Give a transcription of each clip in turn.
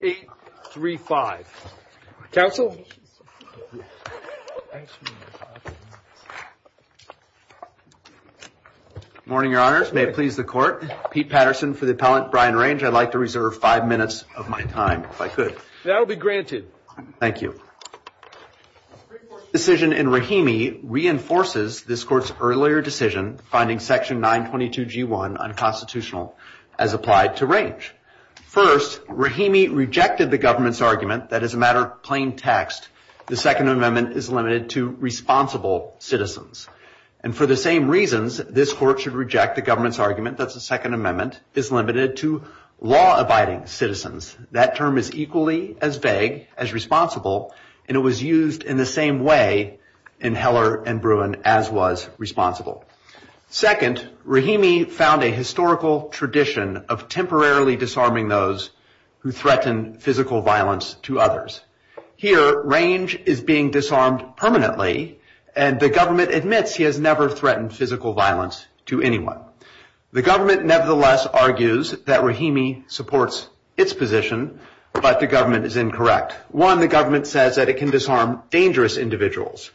835. Counsel? Morning, your honors. May it please the court. Pete Patterson for the appellant, Brian Range. I'd like to reserve five minutes of my time, if I could. That will be granted. Thank you. Decision in Rahimi reinforces this court's earlier decision finding section 922 G1 unconstitutional as applied to Range. First, Rahimi rejected the government's argument that as a matter of plain text, the Second Amendment is limited to responsible citizens. And for the same reasons, this court should reject the government's argument that the Second Amendment is limited to law-abiding citizens. That term is equally as vague as responsible, and it was used in the same way in Heller and Bruin as was responsible. Second, Rahimi found a historical tradition of temporarily disarming those who threaten physical violence to others. Here, Range is being disarmed permanently, and the government admits he has never threatened physical violence to anyone. The government nevertheless argues that Rahimi supports its position, but the government is incorrect. One, the government says that it can disarm dangerous individuals.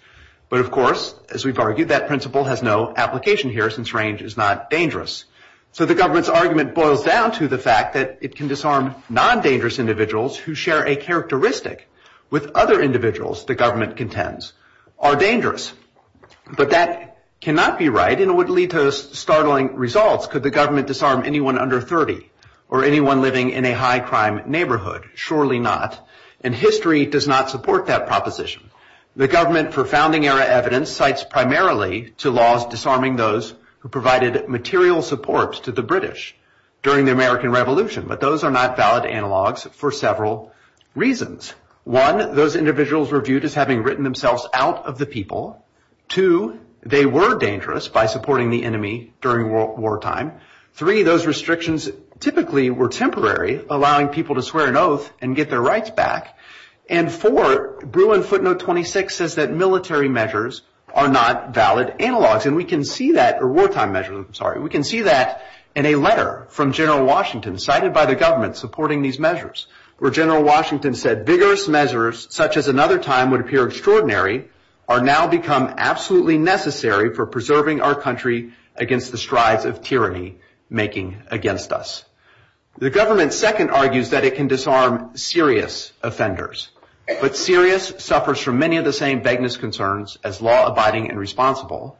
But of course, as we've argued, that principle has no application here since Range is not dangerous. So the government's argument boils down to the fact that it can disarm non-dangerous individuals who share a characteristic with other individuals the government contends are dangerous. But that cannot be right, and it would lead to startling results. Could the government disarm anyone under 30 or anyone living in a high-crime neighborhood? Surely not. And history does not support that proposition. The government, for founding-era evidence, cites primarily to laws disarming those who provided material support to the British during the American Revolution. But those are not valid analogs for several reasons. One, those individuals were viewed as having written themselves out of the people. Two, they were dangerous by supporting the enemy during wartime. Three, those restrictions typically were temporary, allowing people to swear an oath and get their rights back. And four, Bruin footnote 26 says that military measures are not valid analogs. Wartime measures, I'm sorry. We can see that in a letter from General Washington, cited by the government supporting these measures, where General Washington said, vigorous measures, such as another time would appear extraordinary, are now become absolutely necessary for preserving our country against the strides of tyranny making against us. The government's second argues that it can disarm serious offenders. But serious suffers from many of the same vagueness concerns as law-abiding and responsible.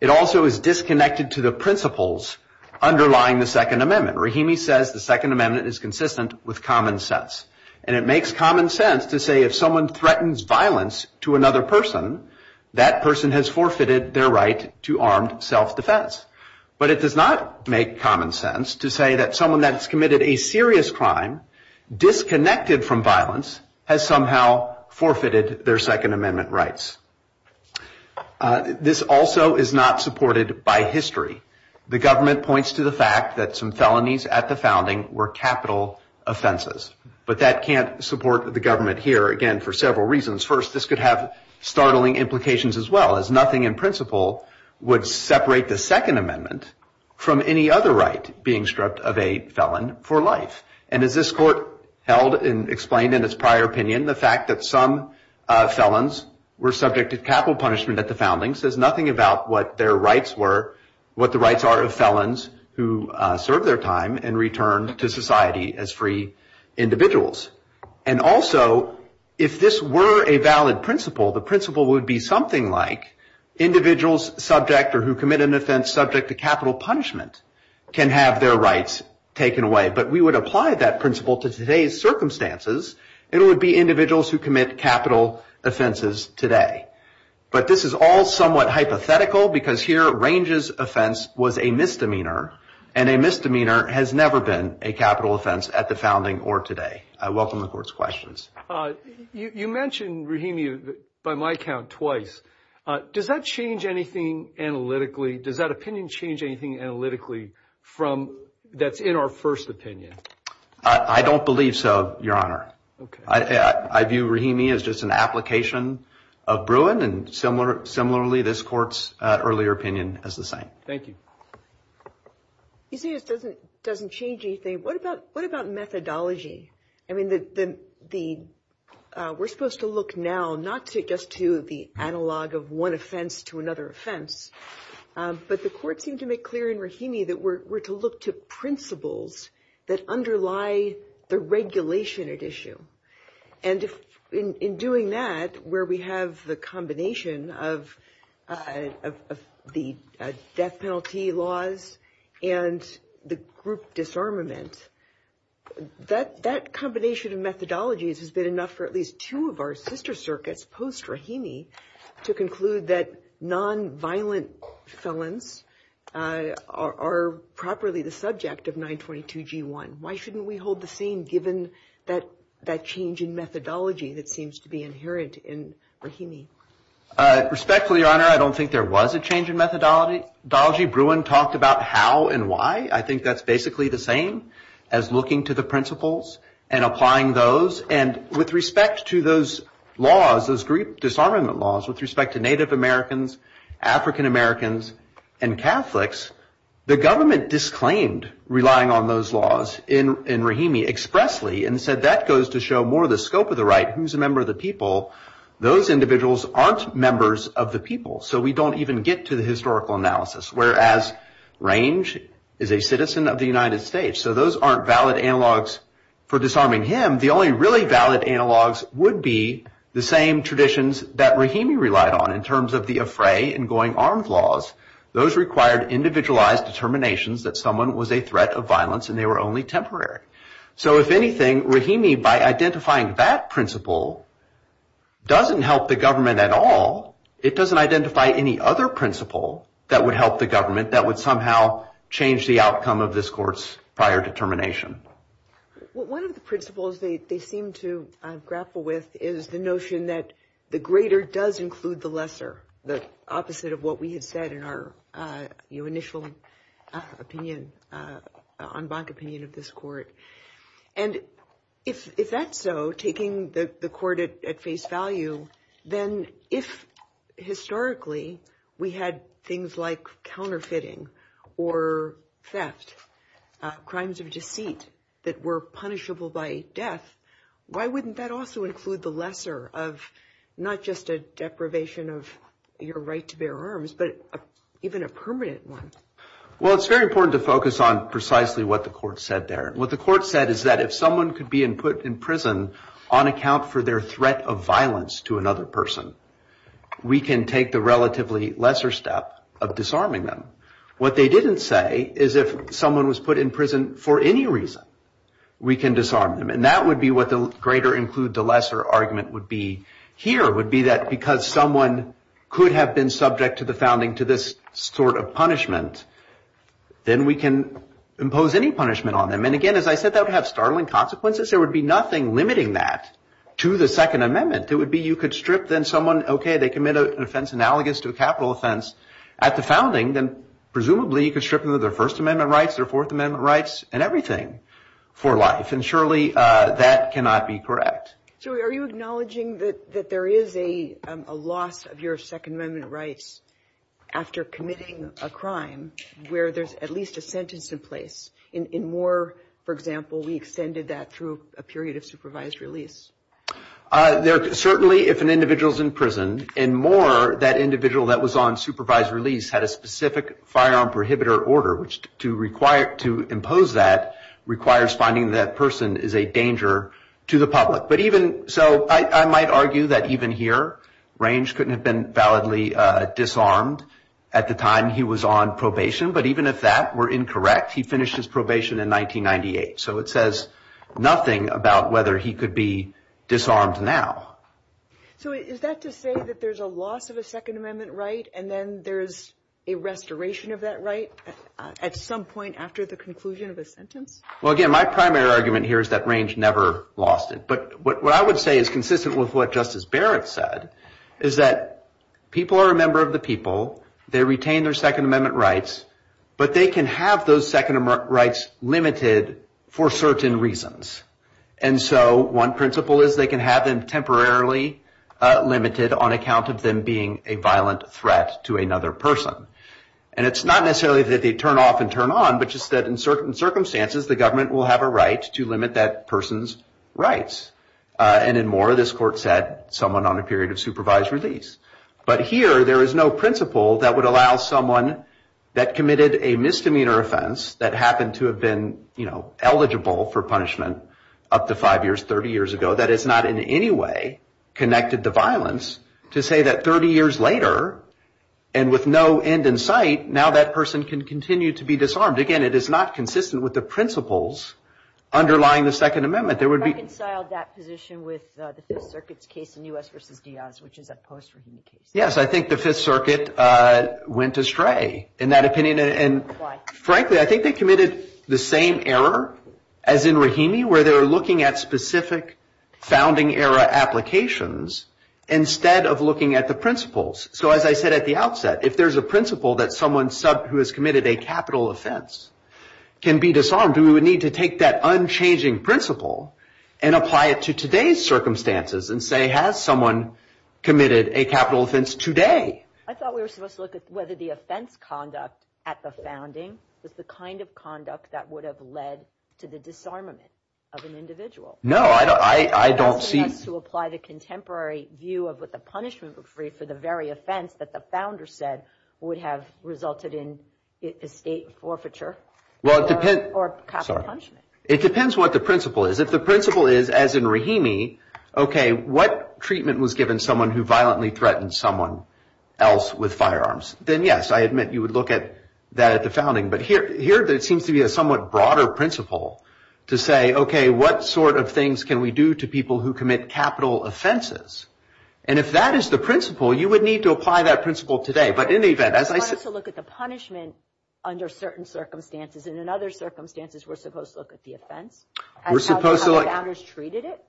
It also is disconnected to the principles underlying the Second Amendment. Rahimi says the Second Amendment is consistent with common sense. And it makes common sense to say if someone threatens violence to another person, that person has forfeited their right to armed self-defense. But it does not make common sense to say that someone that has committed a serious crime, disconnected from violence, has somehow forfeited their Second Amendment rights. This also is not supported by history. The government points to the fact that some felonies at the founding were capital offenses. But that can't support the government here, again, for several reasons. First, this could have startling implications as well, as nothing in principle would separate the Second Amendment from any other right being stripped of a felon for life. And as this court held and explained in its prior opinion, the fact that some felons were subject to capital punishment at the founding says nothing about what their rights were, what the rights are of felons who serve their time and return to society as free individuals. And also, if this were a valid principle, the principle would be something like individuals subject or who commit an offense subject to capital punishment can have their rights taken away. But we would apply that principle to today's circumstances. It would be individuals who commit capital offenses today. But this is all somewhat hypothetical, because here, Range's offense was a misdemeanor. And a misdemeanor has never been a capital offense at the founding or today. I welcome the court's questions. You mentioned, Rahimi, by my count, twice. Does that change anything analytically? Does that opinion change anything analytically from that's in our first opinion? I don't believe so, Your Honor. I view Rahimi as just an application of Bruin. And similarly, this court's earlier opinion is the same. Thank you. You say it doesn't change anything. What about methodology? I mean, we're supposed to look now not just to the analog of one offense to another offense, but the court seemed to make clear in Rahimi that we're to look to principles that underlie the regulation at issue. And in doing that, where we have the combination of the death penalty laws and the group disarmament, that combination of methodologies has been enough for at least two of our sister circuits post-Rahimi to conclude that nonviolent felons are properly the subject of 922 G1. Why shouldn't we hold the same given that change in methodology that seems to be inherent in Rahimi? Respectfully, Your Honor, I don't think there was a change in methodology. Bruin talked about how and why. I think that's basically the same as looking to the principles and applying those. And with respect to those laws, those group disarmament laws, with respect to Native Americans, African-Americans, and Catholics, the government disclaimed relying on those laws in Rahimi expressly and said that goes to show more of the scope of the right. Who's a member of the people? Those individuals aren't members of the people. So we don't even get to the historical analysis. Whereas, Range is a citizen of the United States. So those aren't valid analogs for disarming him. The only really valid analogs would be the same traditions that Rahimi relied on in terms of the Afray and going armed laws. Those required individualized determinations that someone was a threat of violence and they were only temporary. So if anything, Rahimi, by identifying that principle, doesn't help the government at all. It doesn't identify any other principle that would help the government that would somehow change the outcome of this court's prior determination. Well, one of the principles they seem to grapple with is the notion that the greater does include the lesser. The opposite of what we had said in our initial opinion, en banc opinion of this court. And if that's so, taking the court at face value, then if historically we had things like counterfeiting or theft, crimes of deceit that were punishable by death, why wouldn't that also include the lesser of not just a deprivation of your right to bear arms, but even a permanent one? Well, it's very important to focus on precisely what the court said there. What the court said is that if someone could be put in prison on account for their threat of violence to another person, we can take the relatively lesser step of disarming them. What they didn't say is if someone was put in prison for any reason, we can disarm them. And that would be what the greater include the lesser argument would be here, would be that because someone could have been subject to the founding to this sort of punishment, then we can impose any punishment on them. And again, as I said, that would have startling consequences. There would be nothing limiting that to the Second Amendment. It would be you could strip then someone, okay, they commit an offense analogous to a capital offense at the founding, then presumably you could strip them of their First Amendment rights, their Fourth Amendment rights and everything for life. And surely that cannot be correct. So are you acknowledging that there is a loss of your Second Amendment rights after committing a crime where there's at least a sentence in place? In Moore, for example, we extended that through a period of supervised release. Certainly if an individual's in prison, in Moore, that individual that was on supervised release had a specific firearm prohibitor order, which to require, to impose that requires finding that person is a danger to the public. So I might argue that even here, Range couldn't have been validly disarmed at the time he was on probation. But even if that were incorrect, he finished his probation in 1998. So it says nothing about whether he could be disarmed now. So is that to say that there's a loss of a Second Amendment right, and then there's a restoration of that right at some point after the conclusion of a sentence? Well, again, my primary argument here is that Range never lost it. What I would say is consistent with what Justice Barrett said, is that people are a member of the people, they retain their Second Amendment rights, but they can have those Second Amendment rights limited for certain reasons. And so one principle is they can have them temporarily limited on account of them being a violent threat to another person. And it's not necessarily that they turn off and turn on, but just that in certain circumstances, the government will have a right to limit that person's rights. And in Moore, this court said, someone on a period of supervised release. But here, there is no principle that would allow someone that committed a misdemeanor offense that happened to have been eligible for punishment up to five years, 30 years ago, that is not in any way connected to violence to say that 30 years later, and with no end in sight, now that person can continue to be disarmed. Again, it is not consistent with the principles underlying the Second Amendment. There would be- Reconciled that position with the Fifth Circuit's case in U.S. versus Diaz, which is a post-Rahimi case. Yes, I think the Fifth Circuit went astray in that opinion. And frankly, I think they committed the same error as in Rahimi, where they were looking at specific founding era applications instead of looking at the principles. So as I said at the outset, if there's a principle that someone who has committed a capital offense can be disarmed, we would need to take that unchanging principle and apply it to today's circumstances and say, has someone committed a capital offense today? I thought we were supposed to look at whether the offense conduct at the founding was the kind of conduct that would have led to the disarmament of an individual. No, I don't see- Are you asking us to apply the contemporary view of what the punishment would be for the very offense that the founder said would have resulted in estate forfeiture? Well, it depends- Or capital punishment. It depends what the principle is. If the principle is, as in Rahimi, okay, what treatment was given someone who violently threatened someone else with firearms? Then yes, I admit you would look at that at the founding. But here, it seems to be a somewhat broader principle to say, okay, what sort of things can we do to people who commit capital offenses? And if that is the principle, you would need to apply that principle today. But in the event, as I said- I wanted to look at the punishment under certain circumstances. And in other circumstances, we're supposed to look at the offense. We're supposed to look- And how the founders treated it?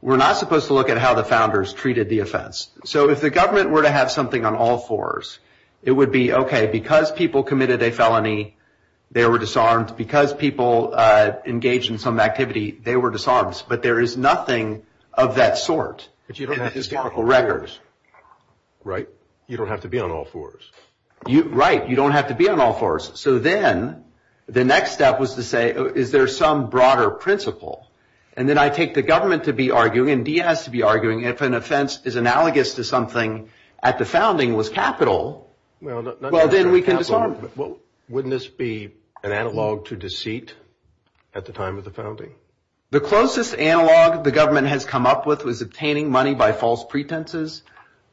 We're not supposed to look at how the founders treated the offense. So if the government were to have something on all fours, it would be, okay, because people committed a felony, they were disarmed. Because people engaged in some activity, they were disarmed. But there is nothing of that sort in the historical records. Right, you don't have to be on all fours. Right, you don't have to be on all fours. So then, the next step was to say, is there some broader principle? And then I take the government to be arguing, and Diaz to be arguing, if an offense is analogous to something at the founding was capital, well, then we can disarm. Wouldn't this be an analog to deceit at the time of the founding? The closest analog the government has come up with was obtaining money by false pretenses.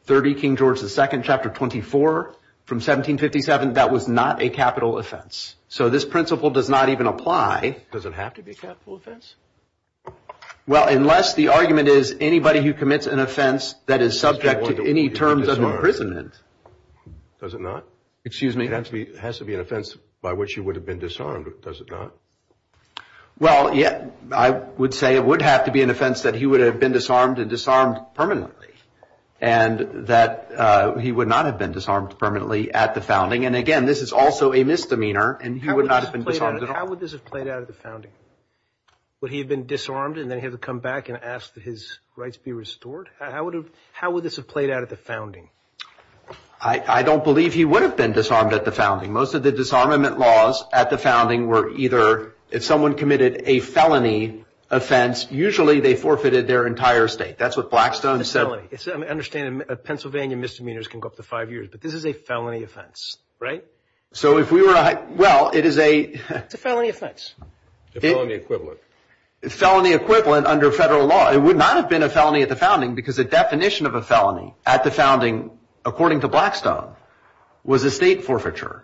3 King George II, chapter 24, from 1757, that was not a capital offense. So this principle does not even apply. Does it have to be a capital offense? Well, unless the argument is, anybody who commits an offense that is subject to any terms of imprisonment. Does it not? Excuse me? It has to be an offense by which you would have been disarmed, does it not? Well, yeah, I would say it would have to be an offense that he would have been disarmed and disarmed permanently, and that he would not have been disarmed permanently at the founding. And again, this is also a misdemeanor, and he would not have been disarmed at all. How would this have played out at the founding? Would he have been disarmed, and then he had to come back and ask that his rights be restored? How would this have played out at the founding? I don't believe he would have been disarmed at the founding. Most of the disarmament laws at the founding were either, if someone committed a felony offense, usually they forfeited their entire state. That's what Blackstone said. It's a felony. I understand that Pennsylvania misdemeanors can go up to five years, but this is a felony offense, right? So if we were to, well, it is a- It's a felony offense. It's a felony equivalent. It's felony equivalent under federal law. It would not have been a felony at the founding because the definition of a felony at the founding, according to Blackstone, was a state forfeiture.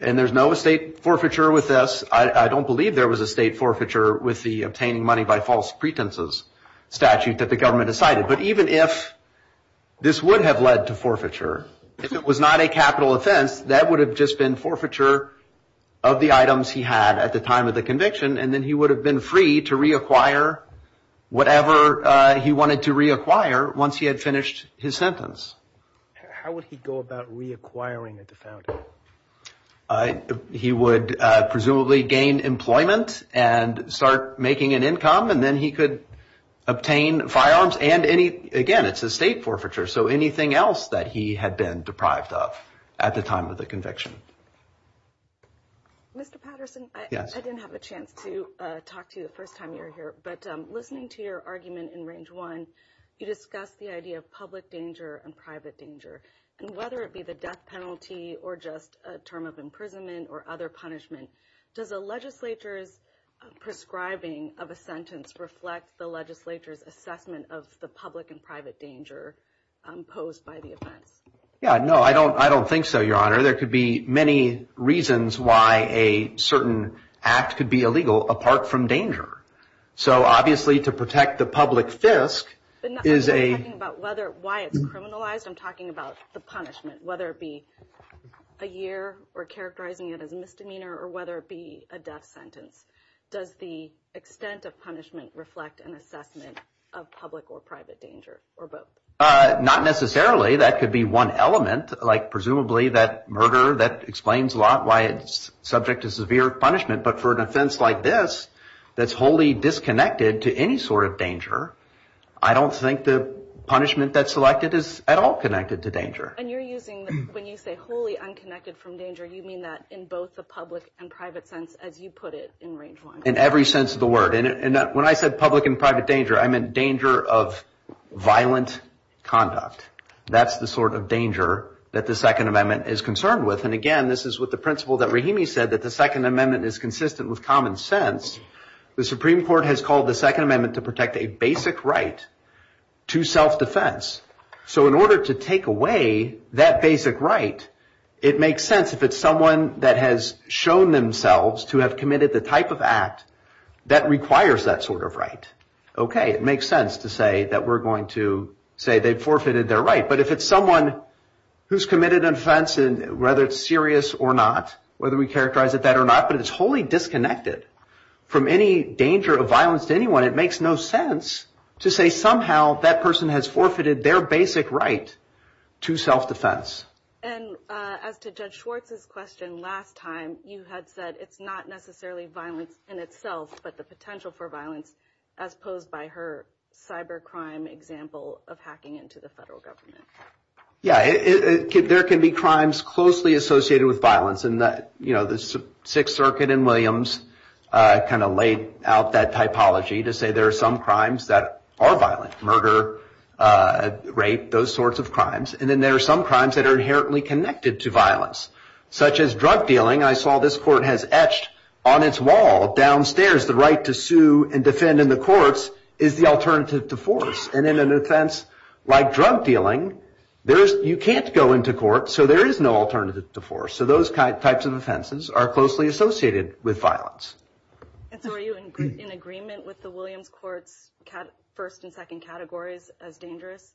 And there's no state forfeiture with this. I don't believe there was a state forfeiture with the obtaining money by false pretenses statute that the government decided. But even if this would have led to forfeiture, if it was not a capital offense, that would have just been forfeiture of the items he had at the time of the conviction, and then he would have been free to reacquire whatever he wanted to reacquire once he had finished his sentence. How would he go about reacquiring at the founding? He would presumably gain employment and start making an income, and then he could obtain firearms and any, again, it's a state forfeiture, so anything else that he had been deprived of at the time of the conviction. Mr. Patterson, I didn't have a chance to talk to you the first time you were here, but listening to your argument in Range 1, you discussed the idea of public danger and private danger. And whether it be the death penalty or just a term of imprisonment or other punishment, does a legislature's prescribing of a sentence reflect the legislature's assessment of the public and private danger posed by the offense? Yeah, no, I don't think so, Your Honor. There could be many reasons why a certain act could be illegal apart from danger. So, obviously, to protect the public fisc is a- But I'm not talking about why it's criminalized, I'm talking about the punishment, whether it be a year or characterizing it as a misdemeanor or whether it be a death sentence. Does the extent of punishment reflect an assessment of public or private danger, or both? Not necessarily, that could be one element, like presumably that murder, that explains a lot why it's subject to severe punishment, but for an offense like this, that's wholly disconnected to any sort of danger, I don't think the punishment that's selected is at all connected to danger. And you're using, when you say wholly unconnected from danger, you mean that in both the public and private sense, as you put it in Range 1. In every sense of the word, and when I said public and private danger, I meant danger of violent conduct. That's the sort of danger that the Second Amendment is concerned with, and again, this is what the principle that Rahimi said, that the Second Amendment is consistent with common sense. The Supreme Court has called the Second Amendment to protect a basic right to self-defense. So, in order to take away that basic right, it makes sense if it's someone that has shown themselves to have committed the type of act that requires that sort of right. Okay, it makes sense to say that we're going to say they've forfeited their right, but if it's someone who's committed an offense and whether it's serious or not, whether we characterize it that or not, but it's wholly disconnected from any danger of violence to anyone, it makes no sense to say somehow that person has forfeited their basic right to self-defense. And as to Judge Schwartz's question last time, you had said it's not necessarily violence in itself, but the potential for violence, as posed by her cybercrime example of hacking into the federal government. Yeah, there can be crimes closely associated with violence, and the Sixth Circuit in Williams kind of laid out that typology to say there are some crimes that are violent, murder, rape, those sorts of crimes, and then there are some crimes that are inherently connected to violence, such as drug dealing. I saw this court has etched on its wall downstairs the right to sue and defend in the courts is the alternative to force. And in an offense like drug dealing, you can't go into court, so there is no alternative to force. So those types of offenses are closely associated with violence. And so are you in agreement with the Williams court's first and second categories as dangerous?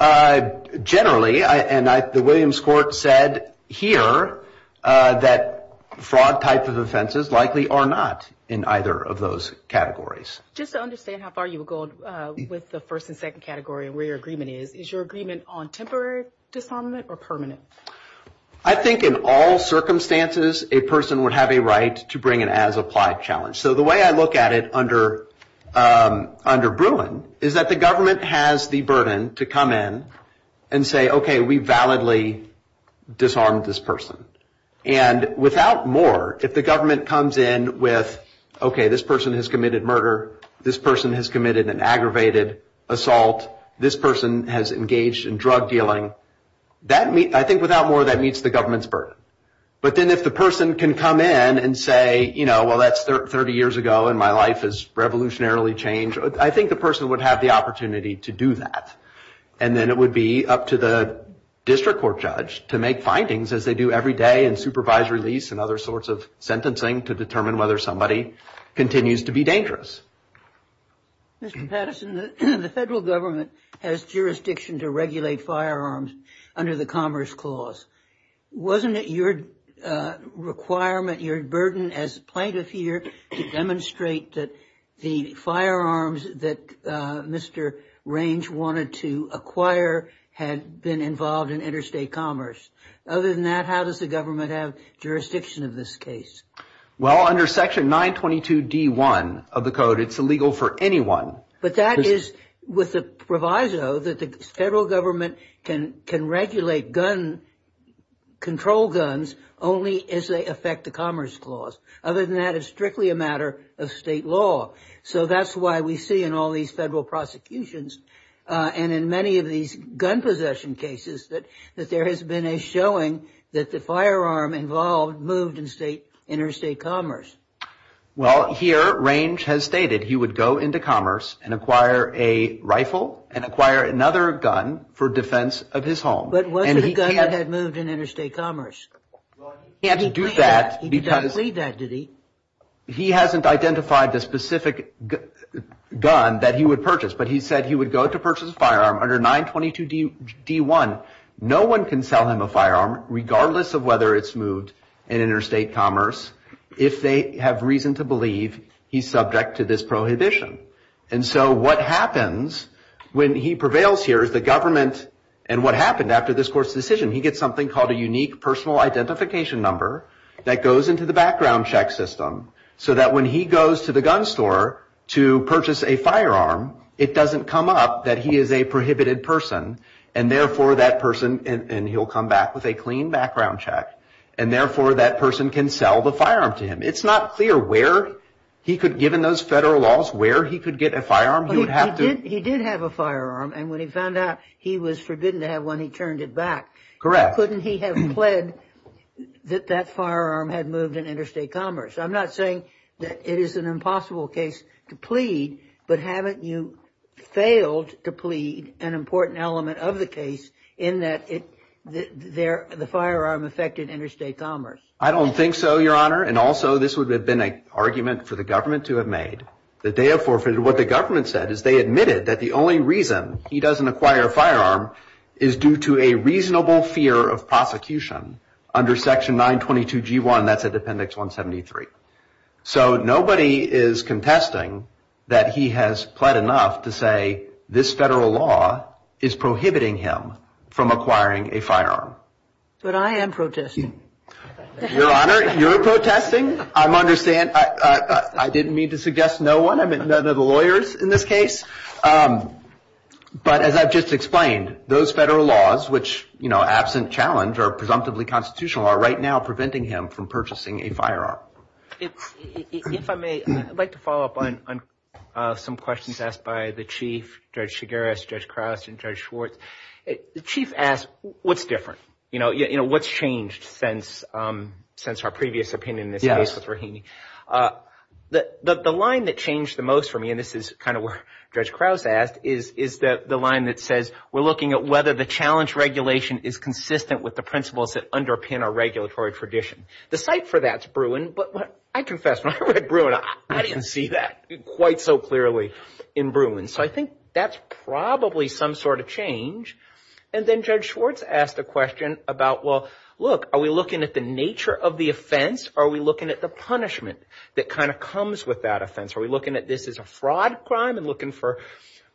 I generally, and the Williams court said here that fraud type of offenses likely are not in either of those categories. Just to understand how far you would go with the first and second category and where your agreement is, is your agreement on temporary disarmament or permanent? I think in all circumstances, a person would have a right to bring an as applied challenge. So the way I look at it under Bruin is that the government has the burden to come in and say, okay, we validly disarmed this person. And without more, if the government comes in with, okay, this person has committed murder, this person has committed an aggravated assault, this person has engaged in drug dealing. That means, I think without more that meets the government's burden. But then if the person can come in and say, well, that's 30 years ago and my life has revolutionarily changed. I think the person would have the opportunity to do that. And then it would be up to the district court judge to make findings as they do every day and supervise release and other sorts of sentencing to determine whether somebody continues to be dangerous. Mr. Patterson, the federal government has jurisdiction to regulate firearms under the Commerce Clause. Wasn't it your requirement, your burden as plaintiff here to demonstrate that the firearms that Mr. Range wanted to acquire had been involved in interstate commerce? Other than that, how does the government have jurisdiction of this case? Well, under section 922 D1 of the code, it's illegal for anyone. But that is with the proviso that the federal government can regulate gun, control guns only as they affect the Commerce Clause. Other than that, it's strictly a matter of state law. So that's why we see in all these federal prosecutions and in many of these gun possession cases that there has been a showing that the firearm involved moved in interstate commerce. Well, here, Range has stated he would go into commerce and acquire a rifle and acquire another gun for defense of his home. But wasn't a gun that had moved in interstate commerce? Well, he can't do that because he hasn't identified the specific gun that he would purchase, but he said he would go to purchase a firearm under 922 D1. No one can sell him a firearm regardless of whether it's moved in interstate commerce if they have reason to believe he's subject to this prohibition. And so what happens when he prevails here is the government, and what happened after this court's decision, he gets something called a unique personal identification number that goes into the background check system so that when he goes to the gun store to purchase a firearm, it doesn't come up that he is a prohibited person, and therefore that person, and he'll come back with a clean background check, and therefore that person can sell the firearm to him. It's not clear where he could, given those federal laws, where he could get a firearm. He would have to- He did have a firearm, and when he found out he was forbidden to have one, he turned it back. Correct. Couldn't he have pled that that firearm had moved in interstate commerce? I'm not saying that it is an impossible case to plead, but haven't you failed to plead an important element of the case in that the firearm affected interstate commerce? I don't think so, Your Honor, and also this would have been an argument for the government to have made that they have forfeited. What the government said is they admitted that the only reason he doesn't acquire a firearm is due to a reasonable fear of prosecution under section 922 G1, that's at appendix 173. So nobody is contesting that he has pled enough to say this federal law is prohibiting him from acquiring a firearm. But I am protesting. Your Honor, you're protesting. I'm understand, I didn't mean to suggest no one, I meant none of the lawyers in this case, but as I've just explained, those federal laws, which absent challenge are presumptively constitutional, are right now preventing him from purchasing a firearm. If I may, I'd like to follow up on some questions asked by the Chief, Judge Chigueras, Judge Crouse, and Judge Schwartz. The Chief asked, what's different? You know, what's changed since our previous opinion in this case with Rohini? The line that changed the most for me, and this is kind of where Judge Crouse asked, is the line that says, we're looking at whether the challenge regulation is consistent with the principles that underpin our regulatory tradition. The site for that's Bruin, but I confess, when I read Bruin, I didn't see that quite so clearly in Bruin. So I think that's probably some sort of change. And then Judge Schwartz asked a question about, well, look, are we looking at the nature of the offense, or are we looking at the punishment that kind of comes with that offense? Are we looking at this as a fraud crime and looking for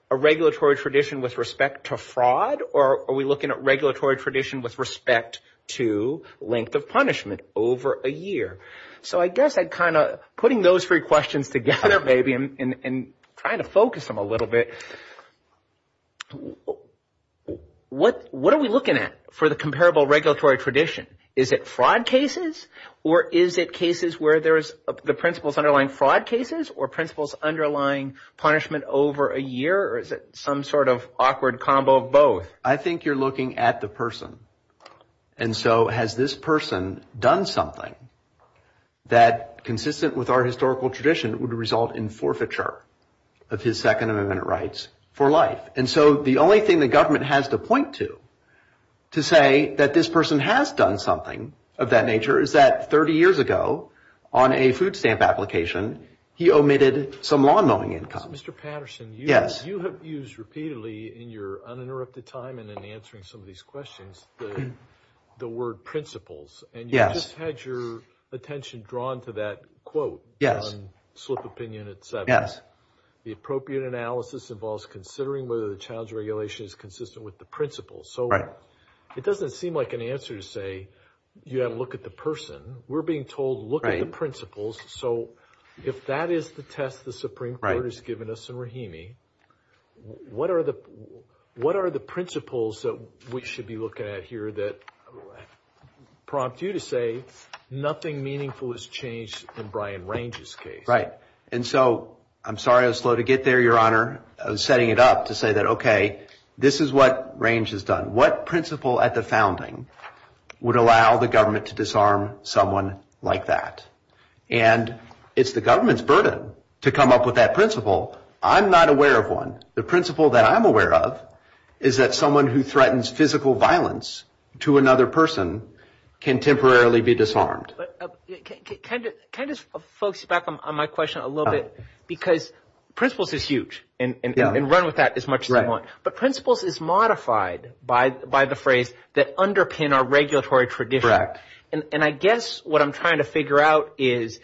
a regulatory tradition with respect to fraud, or are we looking at regulatory tradition with respect to length of punishment over a year? So I guess I'd kind of, putting those three questions together, maybe, and trying to focus them a little bit, what are we looking at for the comparable regulatory tradition? Is it fraud cases, or is it cases where there is, the principles underlying fraud cases, or principles underlying punishment over a year, or is it some sort of awkward combo of both? I think you're looking at the person. And so has this person done something that, consistent with our historical tradition, would result in forfeiture of his Second Amendment rights for life? And so the only thing the government has to point to to say that this person has done something of that nature is that 30 years ago, on a food stamp application, he omitted some law-knowing income. Mr. Patterson, you have used repeatedly in your uninterrupted time and in answering some of these questions, the word principles. And you just had your attention drawn to that quote on slip opinion at seven. The appropriate analysis involves considering whether the child's regulation is consistent with the principles. So it doesn't seem like an answer to say you have to look at the person. We're being told, look at the principles. So if that is the test the Supreme Court has given us in Rahimi, what are the principles that we should be looking at here that prompt you to say nothing meaningful has changed in Brian Range's case? Right. And so, I'm sorry I was slow to get there, Your Honor. I was setting it up to say that, okay, this is what Range has done. What principle at the founding would allow the government to disarm someone like that? And it's the government's burden to come up with that principle. I'm not aware of one. The principle that I'm aware of is that someone who threatens physical violence to another person can temporarily be disarmed. Can I just focus back on my question a little bit? Because principles is huge and run with that as much as you want. But principles is modified by the phrase that underpin our regulatory tradition. And I guess what I'm trying to figure out is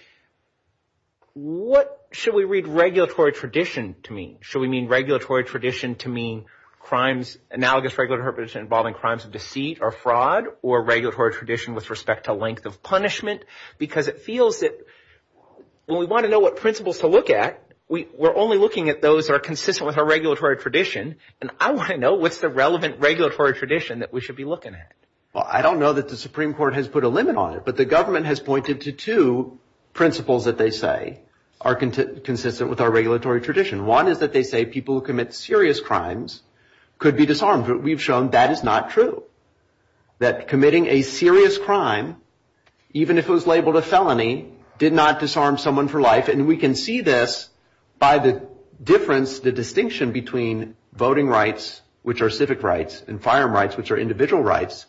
what should we read regulatory tradition to mean? Should we mean regulatory tradition to mean crimes, analogous regulatory tradition involving crimes of deceit or fraud or regulatory tradition with respect to length of punishment? Because it feels that when we want to know what principles to look at, we're only looking at those that are consistent with our regulatory tradition. And I want to know what's the relevant regulatory tradition that we should be looking at. Well, I don't know that the Supreme Court has put a limit on it, but the government has pointed to two principles that they say are consistent with our regulatory tradition. One is that they say people who commit serious crimes could be disarmed. But we've shown that is not true. That committing a serious crime, even if it was labeled a felony, did not disarm someone for life. And we can see this by the difference, the distinction between voting rights, which are civic rights, and firearm rights, which are individual rights,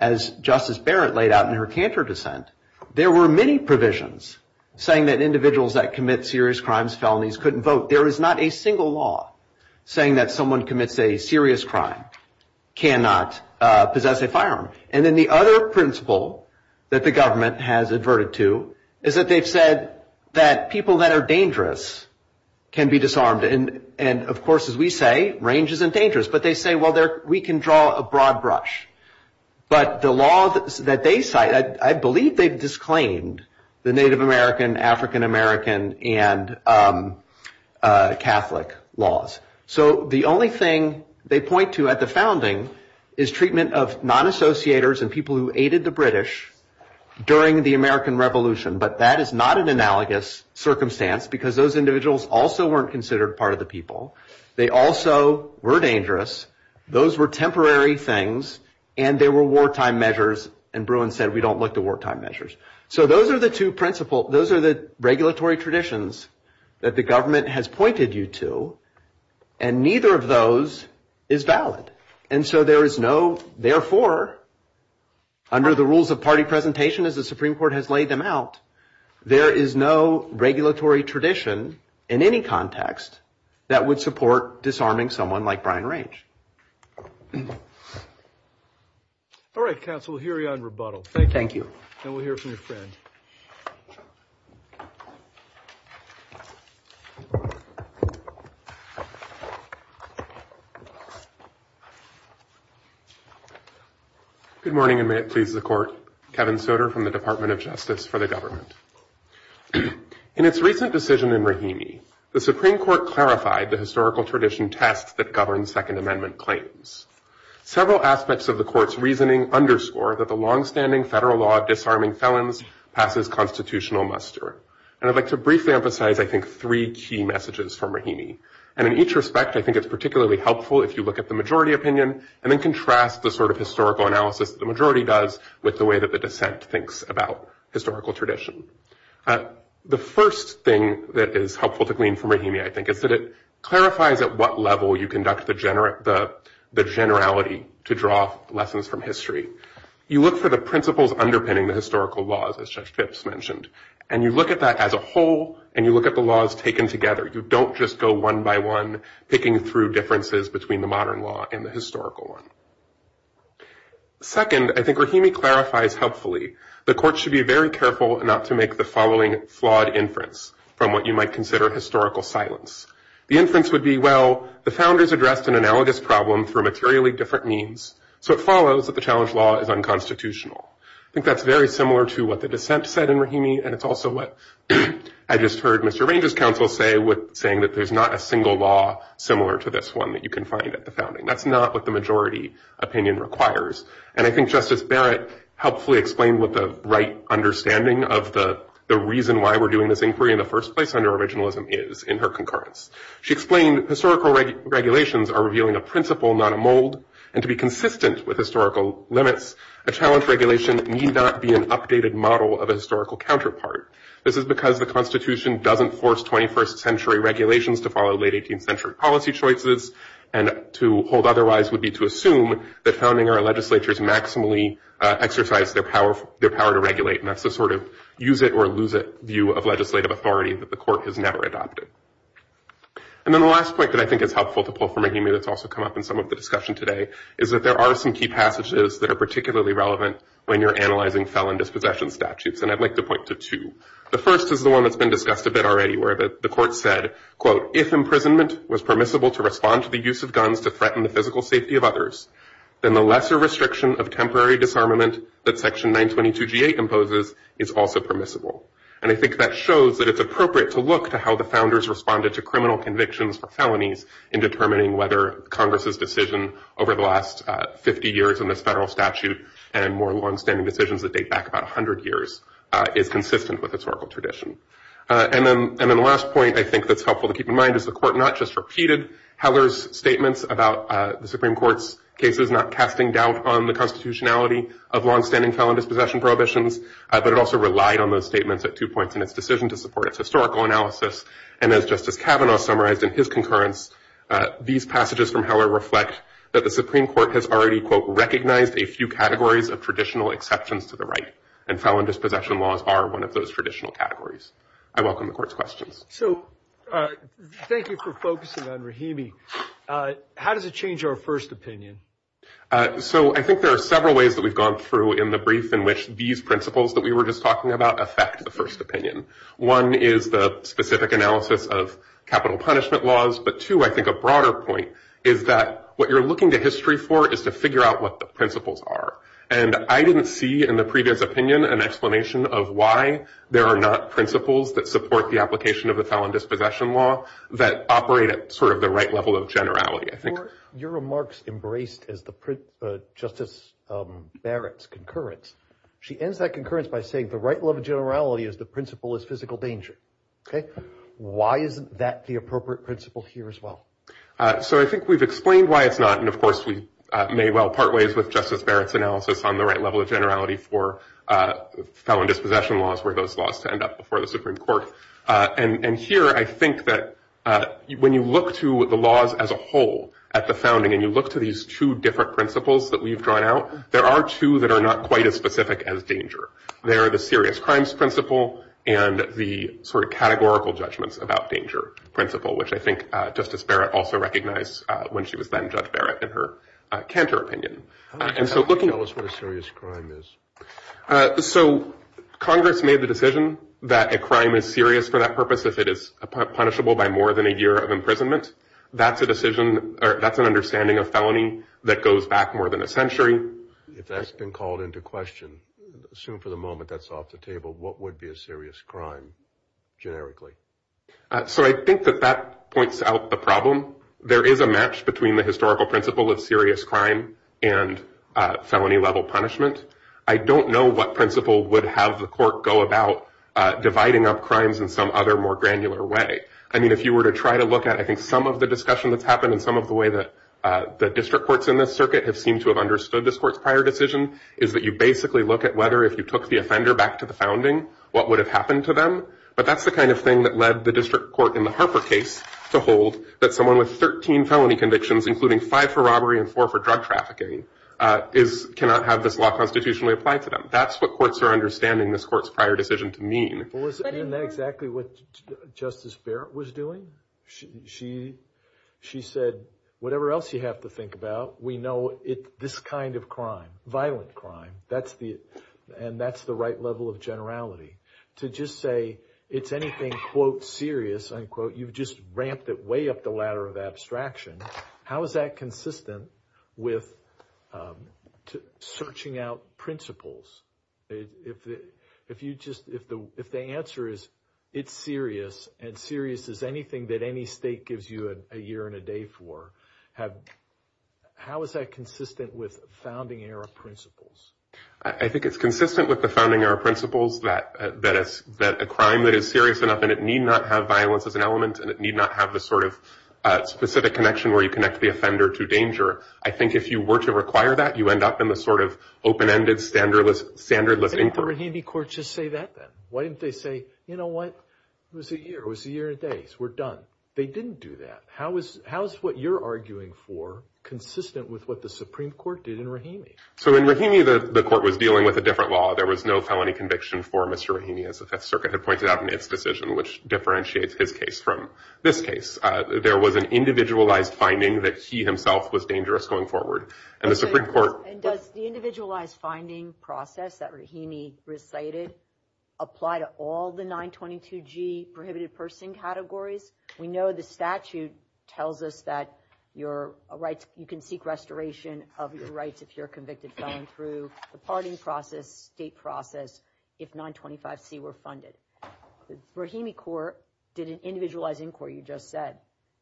as Justice Barrett laid out in her canter dissent. There were many provisions saying that individuals that commit serious crimes, felonies, couldn't vote. There is not a single law saying that someone commits a serious crime cannot possess a firearm. And then the other principle that the government has adverted to is that they've said that people that are dangerous can be disarmed. And of course, as we say, range isn't dangerous. But they say, well, we can draw a broad brush. But the law that they cite, I believe they've disclaimed the Native American, African American, and Catholic laws. So the only thing they point to at the founding is treatment of non-associators and people who aided the British during the American Revolution. But that is not an analogous circumstance because those individuals also weren't considered part of the people. They also were dangerous. Those were temporary things. And they were wartime measures. And Bruin said, we don't look to wartime measures. So those are the two principle, those are the regulatory traditions that the government has pointed you to. And neither of those is valid. And so there is no, therefore, under the rules of party presentation as the Supreme Court has laid them out, there is no regulatory tradition in any context that would support disarming someone like Brian Range. All right, counsel, we'll hear you on rebuttal. Thank you. Thank you. And we'll hear from your friend. Good morning, and may it please the court. Kevin Soder from the Department of Justice for the government. In its recent decision in Rahimi, the Supreme Court clarified the historical tradition test that governs Second Amendment claims. Several aspects of the court's reasoning underscore that the longstanding federal law of disarming felons passes constitutional muster. And I'd like to briefly emphasize, I think, three key messages from Rahimi. And in each respect, I think it's particularly helpful if you look at the majority opinion and then contrast the sort of historical analysis the majority does with the way that the dissent thinks about historical tradition. The first thing that is helpful to glean from Rahimi, I think, is that it clarifies at what level you conduct the generality to draw lessons from history. You look for the principles underpinning the historical laws, as Judge Phipps mentioned. And you look at that as a whole, and you look at the laws taken together. You don't just go one by one, picking through differences between the modern law and the historical one. Second, I think Rahimi clarifies helpfully the court should be very careful not to make the following flawed inference from what you might consider historical silence. The inference would be, well, the founders addressed an analogous problem for materially different means. So it follows that the challenge law is unconstitutional. I think that's very similar to what the dissent said in Rahimi. And it's also what I just heard Mr. Ranges' counsel say, saying that there's not a single law similar to this one that you can find at the founding. That's not what the majority opinion requires. And I think Justice Barrett helpfully explained what the right understanding of the reason why we're doing this inquiry in the first place under originalism is in her concurrence. She explained historical regulations are revealing a principle, not a mold. And to be consistent with historical limits, a challenge regulation need not be an updated model of a historical counterpart. This is because the Constitution doesn't force 21st century regulations to follow late 18th century policy choices. And to hold otherwise would be to assume that founding our legislatures maximally exercise their power to regulate. And that's the sort of use it or lose it view of legislative authority that the court has never adopted. And then the last point that I think is helpful to pull from Rahimi that's also come up in some of the discussion today is that there are some key passages that are particularly relevant when you're analyzing felon dispossession statutes. And I'd like to point to two. The first is the one that's been discussed a bit already where the court said, quote, if imprisonment was permissible to respond to the use of guns to threaten the physical safety of others, then the lesser restriction of temporary disarmament that section 922 G8 imposes is also permissible. And I think that shows that it's appropriate to look to how the founders responded to criminal convictions for felonies in determining whether Congress's decision over the last 50 years in this federal statute and more longstanding decisions that date back about 100 years is consistent with historical tradition. And then the last point I think that's helpful to keep in mind is the court not just repeated Heller's statements about the Supreme Court's cases not casting doubt on the constitutionality of longstanding felon dispossession prohibitions, but it also relied on those statements at two points in its decision to support its historical analysis. And as Justice Kavanaugh summarized in his concurrence, these passages from Heller reflect that the Supreme Court has already, quote, recognized a few categories of traditional exceptions to the right. And felon dispossession laws are one of those traditional categories. I welcome the court's questions. So thank you for focusing on Rahimi. How does it change our first opinion? So I think there are several ways that we've gone through in the brief in which these principles that we were just talking about affect the first opinion. One is the specific analysis of capital punishment laws, but two, I think a broader point is that what you're looking to history for is to figure out what the principles are. And I didn't see in the previous opinion an explanation of why there are not principles that support the application of the felon dispossession law that operate at sort of the right level of generality. Your remarks embraced as Justice Barrett's concurrence. She ends that concurrence by saying the right level of generality is the principle is physical danger. Why isn't that the appropriate principle here as well? So I think we've explained why it's not. And of course, we may well part ways with Justice Barrett's analysis on the right level of generality for felon dispossession laws were those laws to end up before the Supreme Court. And here, I think that when you look to the laws as a whole at the founding and you look to these two different principles that we've drawn out, there are two that are not quite as specific as danger. There are the serious crimes principle and the sort of categorical judgments about danger principle, which I think Justice Barrett also recognized when she was then Judge Barrett in her Cantor opinion. And so looking- Tell us what a serious crime is. So Congress made the decision that a crime is serious for that purpose if it is punishable by more than a year of imprisonment. That's a decision or that's an understanding of felony that goes back more than a century. If that's been called into question, assume for the moment that's off the table, what would be a serious crime generically? So I think that that points out the problem. There is a match between the historical principle of serious crime and felony level punishment. I don't know what principle would have the court go about dividing up crimes in some other more granular way. I mean, if you were to try to look at, I think some of the discussion that's happened and some of the way that the district courts in this circuit have seemed to have understood this court's prior decision is that you basically look at whether if you took the offender back to the founding, what would have happened to them. But that's the kind of thing that led the district court in the Harper case to hold that someone with 13 felony convictions, including five for robbery and four for drug trafficking, is, cannot have this law constitutionally applied to them. That's what courts are understanding this court's prior decision to mean. Well, isn't that exactly what Justice Barrett was doing? She said, whatever else you have to think about, we know this kind of crime, violent crime, that's the, and that's the right level of generality. To just say it's anything, quote, serious, unquote, you've just ramped it way up the ladder of abstraction. How is that consistent with searching out principles? If you just, if the answer is, it's serious, and serious is anything that any state gives you a year and a day for, how is that consistent with founding-era principles? I think it's consistent with the founding-era principles that a crime that is serious enough, and it need not have violence as an element, and it need not have the sort of specific connection where you connect the offender to danger, I think if you were to require that, you end up in the sort of open-ended, standardless inquiry. Didn't the Rahimi court just say that then? Why didn't they say, you know what, it was a year, it was a year and a day, so we're done. They didn't do that. How is what you're arguing for consistent with what the Supreme Court did in Rahimi? So in Rahimi, the court was dealing with a different law. There was no felony conviction for Mr. Rahimi, as the Fifth Circuit had pointed out in its decision, which differentiates his case from this case. There was an individualized finding that he himself was dangerous going forward, and the Supreme Court- And does the individualized finding process that Rahimi recited apply to all the 922G prohibited person categories? We know the statute tells us that you can seek restoration of your rights if you're convicted, going through the parting process, state process, if 925C were funded. Rahimi court did an individualized inquiry, you just said.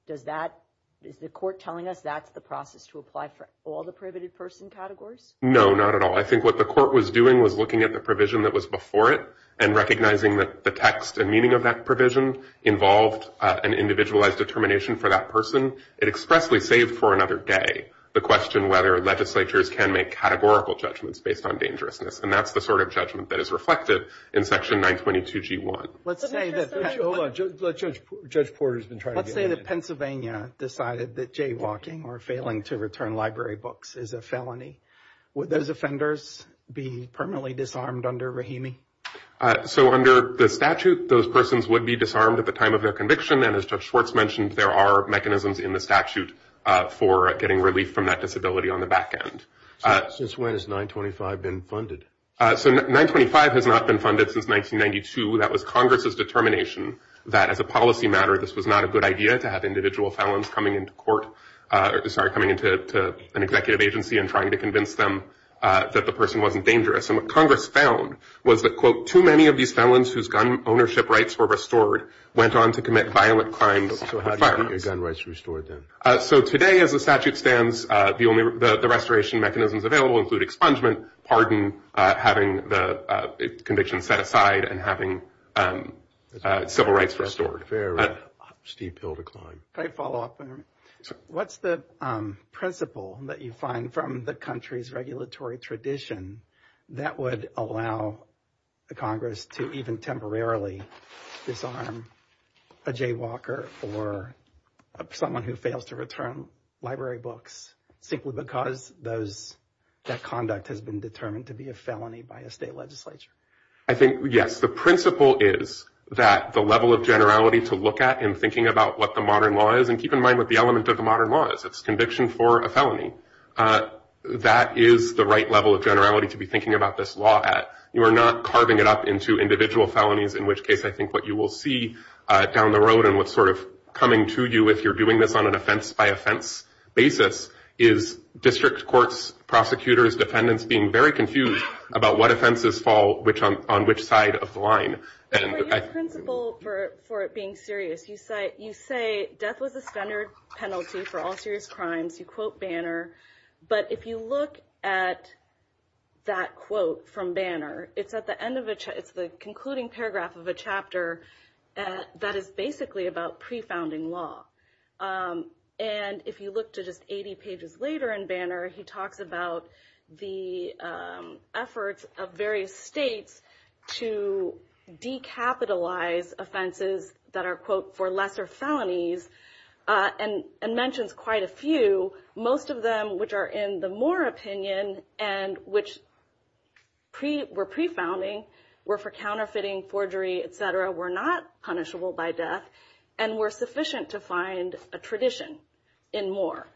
Does that, is the court telling us that's the process to apply for all the prohibited person categories? No, not at all. I think what the court was doing was looking at the provision that was before it and recognizing that the text and meaning of that provision involved an individualized determination for that person. It expressly saved for another day the question whether legislatures can make categorical judgments based on dangerousness, and that's the sort of judgment that is reflected in section 922G1. Let's say that- Hold on, Judge Porter's been trying to get me in. Let's say that Pennsylvania decided that jaywalking or failing to return library books is a felony. Would those offenders be permanently disarmed under Rahimi? So under the statute, those persons would be disarmed at the time of their conviction, and as Judge Schwartz mentioned, there are mechanisms in the statute for getting relief from that disability on the back end. Since when has 925 been funded? So 925 has not been funded since 1992. That was Congress's determination that as a policy matter, this was not a good idea to have individual felons coming into court, sorry, coming into an executive agency and trying to convince them that the person wasn't dangerous. And what Congress found was that, quote, too many of these felons whose gun ownership rights were restored went on to commit violent crimes. So how do you get your gun rights restored then? So today, as the statute stands, the restoration mechanisms available include expungement, pardon, having the conviction set aside, and having civil rights restored. Fair enough. Steve Peele declined. Can I follow up there? What's the principle that you find from the country's regulatory tradition that would allow the Congress to even temporarily disarm a jaywalker or someone who fails to return library books simply because that conduct has been determined to be a felony by a state legislature? I think, yes, the principle is that the level of generality to look at in thinking about what the modern law is, and keep in mind what the element of the modern law is. It's conviction for a felony. That is the right level of generality to be thinking about this law at. You are not carving it up into individual felonies, in which case I think what you will see down the road and what's sort of coming to you if you're doing this on an offense-by-offense basis is district courts, prosecutors, defendants being very confused about what offenses fall on which side of the line. And I think- Well, your principle for it being serious, you say death was a standard penalty for all serious crimes. You quote Banner. But if you look at that quote from Banner, it's at the end of a, it's the concluding paragraph of a chapter that is basically about pre-founding law. And if you look to just 80 pages later in Banner, he talks about the efforts of various states to decapitalize offenses that are, quote, for lesser felonies, and mentions quite a few, most of them which are in the Moore opinion and which were pre-founding, were for counterfeiting, forgery, et cetera, were not punishable by death, and were sufficient to find a tradition in Moore.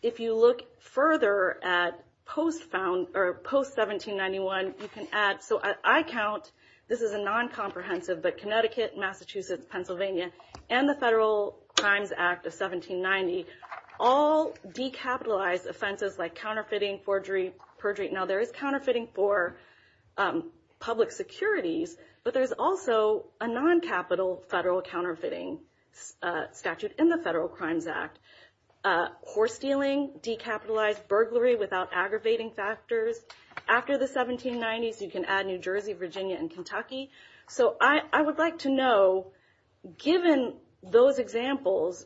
If you look further at post-found, or post-1791, you can add, so I count, this is a non-comprehensive, but Connecticut, Massachusetts, Pennsylvania, and the Federal Crimes Act of 1790 all decapitalized offenses like counterfeiting, forgery, perjury. Now, there is counterfeiting for public securities, but there's also a non-capital federal counterfeiting statute in the Federal Crimes Act. Horse stealing, decapitalized burglary without aggravating factors. After the 1790s, you can add New Jersey, Virginia, and Kentucky. So I would like to know, given those examples,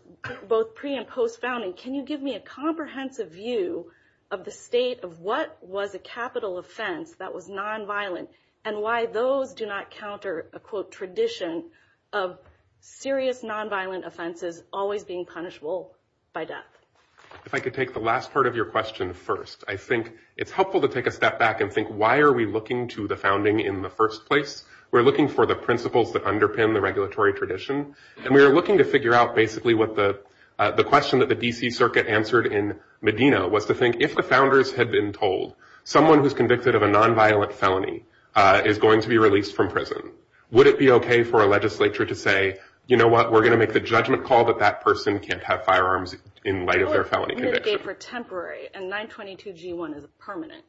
both pre- and post-founding, can you give me a comprehensive view of the state of what was a capital offense that was non-violent, and why those do not counter a, quote, tradition of serious non-violent offenses always being punishable by death? If I could take the last part of your question first. I think it's helpful to take a step back and think, why are we looking to the founding in the first place? We're looking for the principles that underpin the regulatory tradition, and we are looking to figure out, basically, what the question that the D.C. Circuit answered in Medina was to think, if the founders had been told, someone who's convicted of a non-violent felony is going to be released from prison, would it be okay for a legislature to say, you know what, we're gonna make the judgment call that that person can't have firearms in light of their felony conviction? How would it mitigate for temporary, and 922g1 is permanent?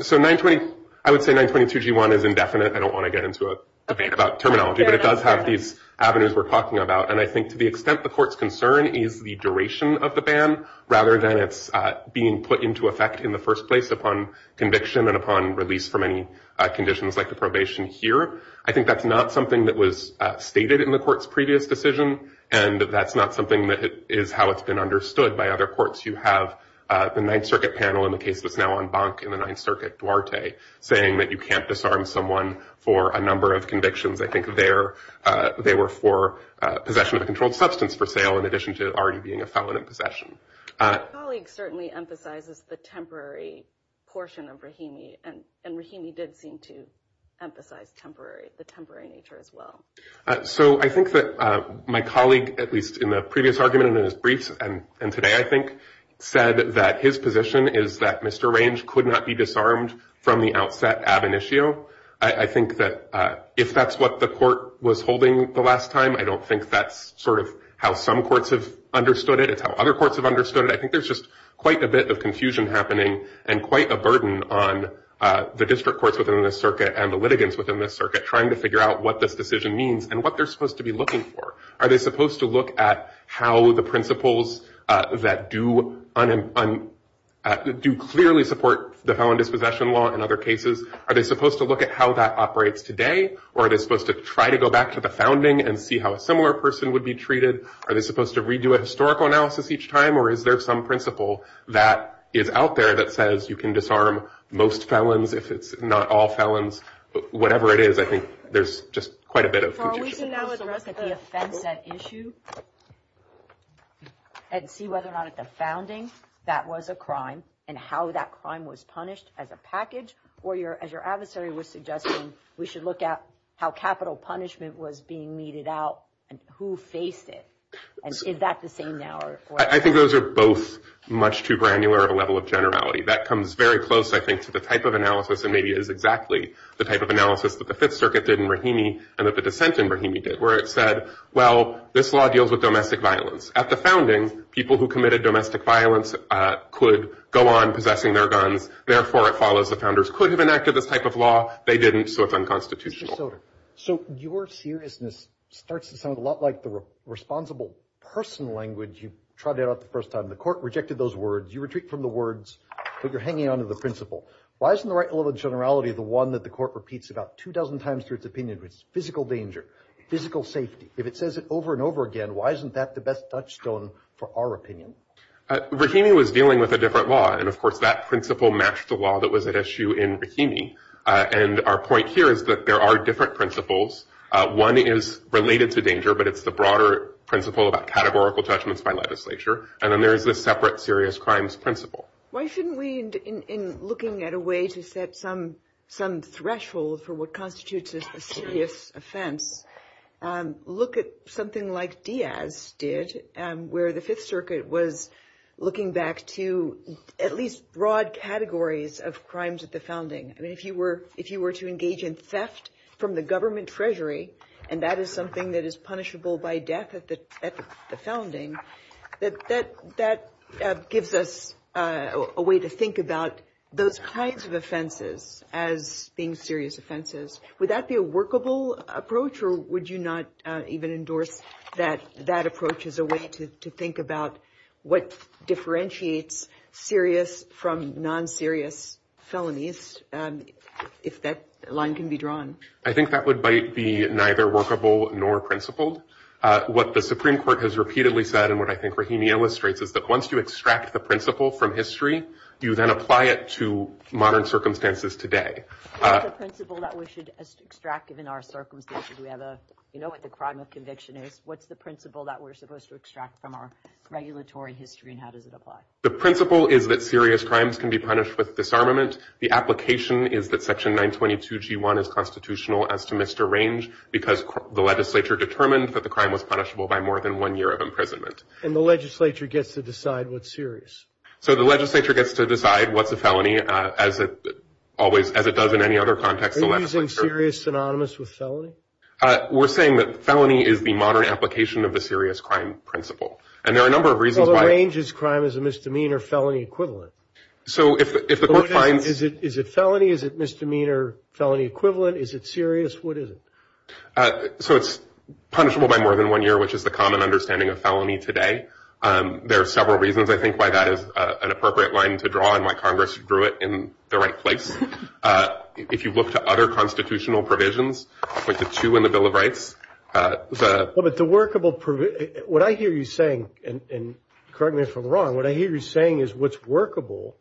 So 920, I would say 922g1 is indefinite. I don't wanna get into a debate about terminology, but it does have these avenues we're talking about, and I think to the extent the court's concern is the duration of the ban, rather than it's being put into effect in the first place upon conviction and upon release from any conditions like the probation here, I think that's not something that was stated in the court's previous decision, and that's not something that is how it's been understood by other courts. You have the 9th Circuit panel in the case that's now on bunk in the 9th Circuit, Duarte, saying that you can't disarm someone for a number of convictions. I think they were for possession of a controlled substance for sale, in addition to already being a felon in possession. My colleague certainly emphasizes the temporary portion of Rahimi, and Rahimi did seem to emphasize the temporary nature as well. So I think that my colleague, at least in the previous argument and in his briefs, and today I think, said that his position is that Mr. Range could not be disarmed from the outset ab initio. I think that if that's what the court was holding the last time, I don't think that's sort of how some courts have understood it. I think that's how other courts have understood it. I think there's just quite a bit of confusion happening and quite a burden on the district courts within this circuit and the litigants within this circuit, trying to figure out what this decision means and what they're supposed to be looking for. Are they supposed to look at how the principles that do clearly support the felon dispossession law in other cases? Are they supposed to look at how that operates today? Or are they supposed to try to go back to the founding and see how a similar person would be treated? Are they supposed to redo a historical analysis each time? Or is there some principle that is out there that says you can disarm most felons if it's not all felons? But whatever it is, I think there's just quite a bit of confusion. So are we supposed to look at the offense at issue and see whether or not at the founding that was a crime and how that crime was punished as a package? Or as your adversary was suggesting, we should look at how capital punishment was being meted out and who faced it. And is that the same now? I think those are both much too granular of a level of generality. That comes very close, I think, to the type of analysis and maybe is exactly the type of analysis that the Fifth Circuit did in Brahimi and that the dissent in Brahimi did, where it said, well, this law deals with domestic violence. At the founding, people who committed domestic violence could go on possessing their guns. Therefore, it follows the founders could have enacted this type of law. They didn't, so it's unconstitutional. So your seriousness starts to sound a lot like the responsible person language you trotted out the first time. The court rejected those words. You retreat from the words, but you're hanging on to the principle. Why isn't the right level of generality the one that the court repeats about two dozen times through its opinion, which is physical danger, physical safety? If it says it over and over again, why isn't that the best touchstone for our opinion? Brahimi was dealing with a different law. And of course, that principle matched the law that was at issue in Brahimi. And our point here is that there are different principles. One is related to danger, but it's the broader principle about categorical judgments by legislature. And then there's the separate serious crimes principle. Why shouldn't we, in looking at a way to set some threshold for what constitutes a serious offense, look at something like Diaz did, where the Fifth Circuit was looking back to at least broad categories of crimes at the founding. If you were to engage in theft from the government treasury, and that is something that is punishable by death at the founding, that gives us a way to think about those kinds of offenses as being serious offenses. Would that be a workable approach, or would you not even endorse that approach as a way to think about what differentiates serious from non-serious felonies, if that line can be drawn? I think that would be neither workable nor principled. What the Supreme Court has repeatedly said, and what I think Brahimi illustrates, is that once you extract the principle from history, you then apply it to modern circumstances today. What's the principle that we should extract given our circumstances? Do we have a, you know what the crime of conviction is? What's the principle that we're supposed to extract from our regulatory history, and how does it apply? The principle is that serious crimes can be punished with disarmament. The application is that section 922 G1 is constitutional as to Mr. Range, because the legislature determined that the crime was punishable by more than one year of imprisonment. And the legislature gets to decide what's serious. So the legislature gets to decide what's a felony, as it always, as it does in any other context. Are you using serious synonymous with felony? We're saying that felony is the modern application of the serious crime principle. And there are a number of reasons why- So what is a misdemeanor felony equivalent? So if the court finds- Is it felony? Is it misdemeanor felony equivalent? Is it serious? What is it? So it's punishable by more than one year, which is the common understanding of felony today. There are several reasons, I think, why that is an appropriate line to draw and why Congress drew it in the right place. If you look to other constitutional provisions, like the two in the Bill of Rights, the- Well, but the workable, what I hear you saying, and correct me if I'm wrong, what I hear you saying is what's workable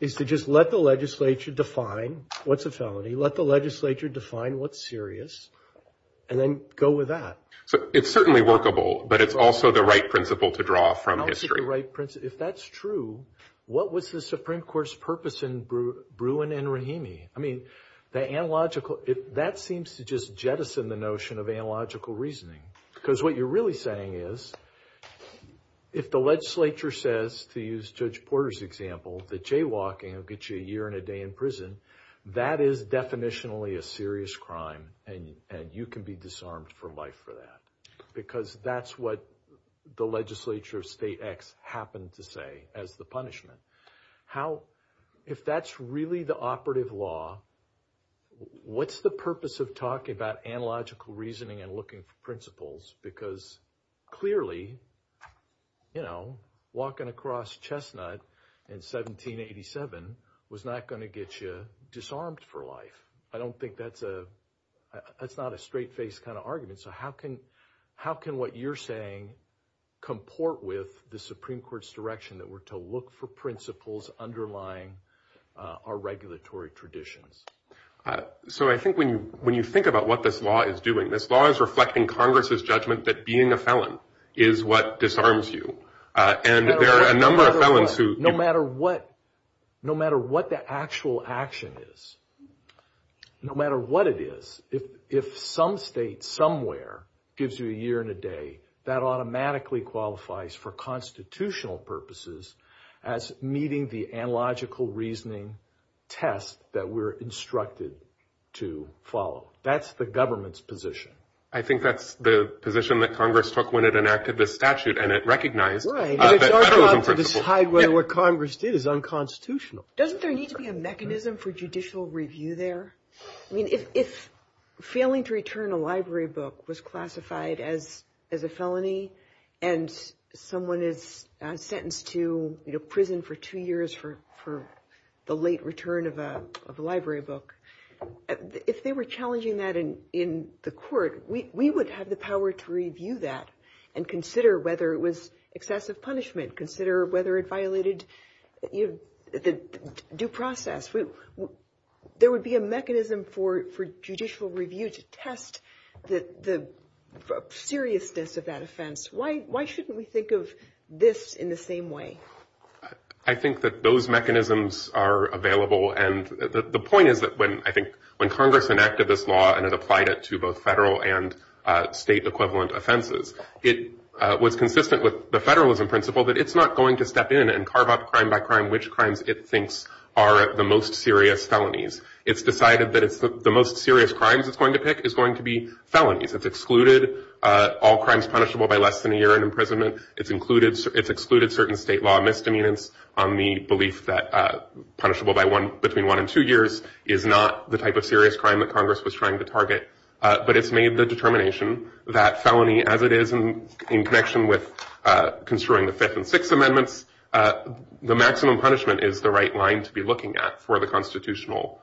is to just let the legislature define what's a felony, let the legislature define what's serious, and then go with that. So it's certainly workable, but it's also the right principle to draw from history. Also the right principle, if that's true, what was the Supreme Court's purpose in Bruin and Rahimi? I mean, the analogical, that seems to just jettison the notion of analogical reasoning. Because what you're really saying is, if the legislature says, to use Judge Porter's example, that jaywalking will get you a year and a day in prison, that is definitionally a serious crime, and you can be disarmed for life for that. Because that's what the legislature of state X happened to say as the punishment. If that's really the operative law, what's the purpose of talking about analogical reasoning and looking for principles? Because clearly, you know, walking across Chestnut in 1787 was not gonna get you disarmed for life. I don't think that's a, that's not a straight-faced kind of argument. So how can what you're saying comport with the Supreme Court's direction that we're to look for principles underlying our regulatory traditions? So I think when you think about what this law is doing, this law is reflecting Congress's judgment that being a felon is what disarms you. And there are a number of felons who- No matter what, no matter what the actual action is, no matter what it is, if some state somewhere gives you a year and a day, that automatically qualifies for constitutional purposes as meeting the analogical reasoning test that we're instructed to follow. That's the government's position. I think that's the position that Congress took when it enacted this statute, and it recognized that that was unprincipled. Right, and it's our job to decide whether what Congress did is unconstitutional. Doesn't there need to be a mechanism for judicial review there? I mean, if failing to return a library book was classified as a felony, and someone is sentenced to prison for two years for the late return of a library book, if they were challenging that in the court, we would have the power to review that and consider whether it was excessive punishment, consider whether it violated the due process. There would be a mechanism for judicial review to test the seriousness of that offense. Why shouldn't we think of this in the same way? I think that those mechanisms are available, and the point is that when Congress enacted this law and it applied it to both federal and state-equivalent offenses, it was consistent with the federalism principle that it's not going to step in and carve up crime by crime which crimes it thinks are the most serious felonies. It's decided that the most serious crimes it's going to pick is going to be felonies. It's excluded all crimes punishable by less than a year in imprisonment. It's excluded certain state law misdemeanors on the belief that punishable between one and two years is not the type of serious crime that Congress was trying to target, but it's made the determination that felony as it is in connection with construing the Fifth and Sixth Amendments, the maximum punishment is the right line to be looking at for the constitutional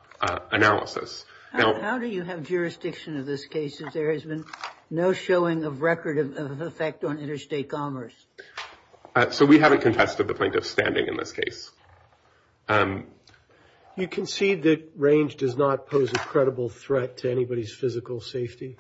analysis. How do you have jurisdiction of this case if there has been no showing of record of effect on interstate commerce? So we haven't contested the plaintiff's standing in this case. You concede that Range does not pose a credible threat to anybody's physical safety?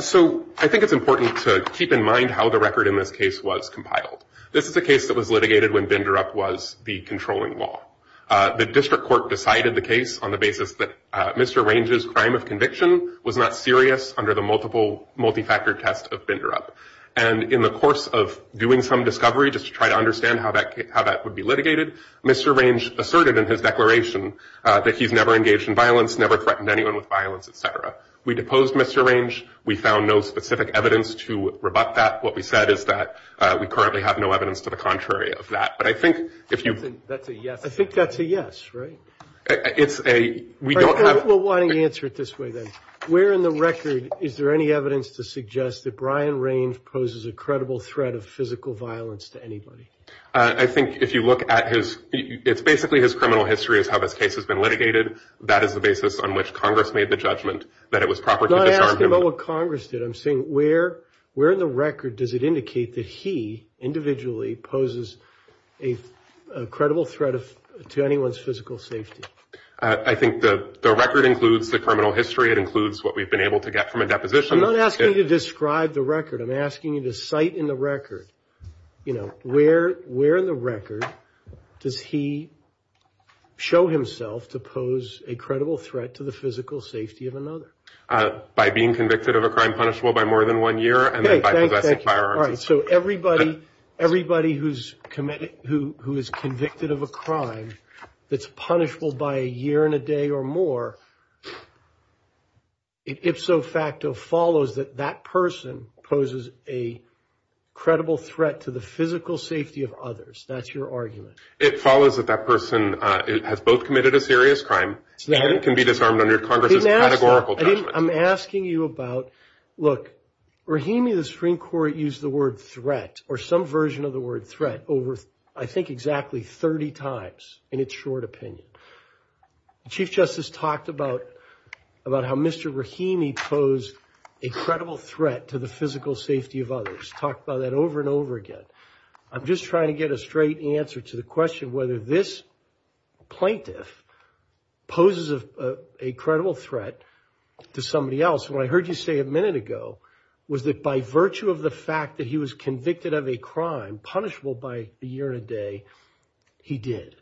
So I think it's important to keep in mind how the record in this case was compiled. This is a case that was litigated when Binderup was the controlling law. The district court decided the case on the basis that Mr. Range's crime of conviction was not serious under the multi-factor test of Binderup. And in the course of doing some discovery just to try to understand how that would be litigated, Mr. Range asserted in his declaration that he's never engaged in violence, never threatened anyone with violence, et cetera. We deposed Mr. Range. We found no specific evidence to rebut that. What we said is that we currently have no evidence to the contrary of that. But I think if you. That's a yes. I think that's a yes, right? It's a, we don't have. Well, why don't you answer it this way then. Where in the record is there any evidence to suggest that Brian Range poses a credible threat of physical violence to anybody? I think if you look at his, it's basically his criminal history is how this case has been litigated. That is the basis on which Congress made the judgment that it was proper to disarm him. I'm not asking about what Congress did. I'm saying where in the record does it indicate that he individually poses a credible threat to anyone's physical safety? I think the record includes the criminal history. It includes what we've been able to get from a deposition. I'm not asking you to describe the record. I'm asking you to cite in the record, where in the record does he show himself to pose a credible threat to the physical safety of another? By being convicted of a crime punishable by more than one year and then by possessing firearms. All right, so everybody who is convicted of a crime that's punishable by a year and a day or more, it ipso facto follows that that person poses a credible threat to the physical safety of others. That's your argument. It follows that that person has both committed a serious crime and can be disarmed under Congress's categorical judgment. I'm asking you about, look, Rahimi of the Supreme Court used the word threat or some version of the word threat over I think exactly 30 times in its short opinion. The Chief Justice talked about how Mr. Rahimi posed a credible threat to the physical safety of others. Talked about that over and over again. I'm just trying to get a straight answer to the question whether this plaintiff poses a credible threat to somebody else. What I heard you say a minute ago was that by virtue of the fact that he was convicted of a crime punishable by a year and a day, he did.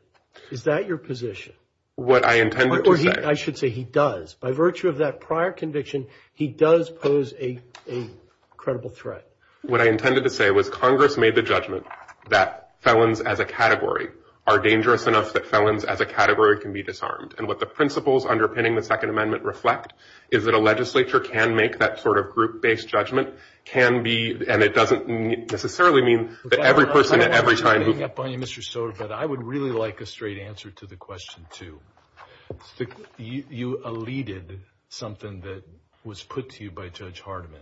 Is that your position? What I intended to say. I should say he does. By virtue of that prior conviction, he does pose a credible threat. What I intended to say was Congress made the judgment that felons as a category are dangerous enough that felons as a category can be disarmed. And what the principles underpinning the Second Amendment reflect is that a legislature can make that sort of group-based judgment, can be, and it doesn't necessarily mean that every person at every time who- I don't want to hang up on you, Mr. Stoddart, but I would really like a straight answer to the question too. You elided something that was put to you by Judge Hardiman.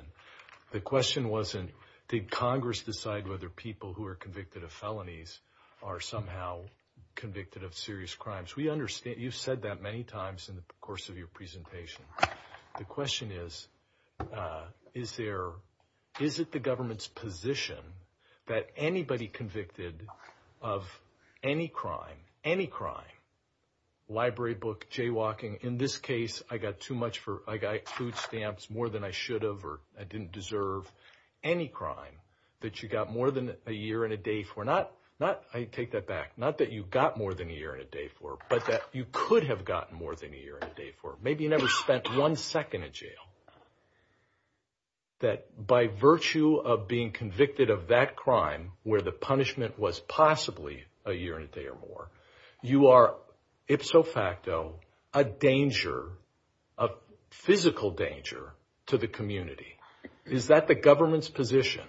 The question wasn't, did Congress decide whether people who are convicted of felonies are somehow convicted of serious crimes? We understand, you've said that many times in the course of your presentation. The question is, is it the government's position that anybody convicted of any crime, any crime, library book, jaywalking, in this case, I got too much for, I got food stamps more than I should have or I didn't deserve, any crime that you got more than a year and a day for, not, I take that back, not that you got more than a year and a day for, but that you could have gotten more than a year and a day for. Maybe you never spent one second in jail. That by virtue of being convicted of that crime, where the punishment was possibly a year and a day or more, you are ipso facto a danger, a physical danger to the community. Is that the government's position?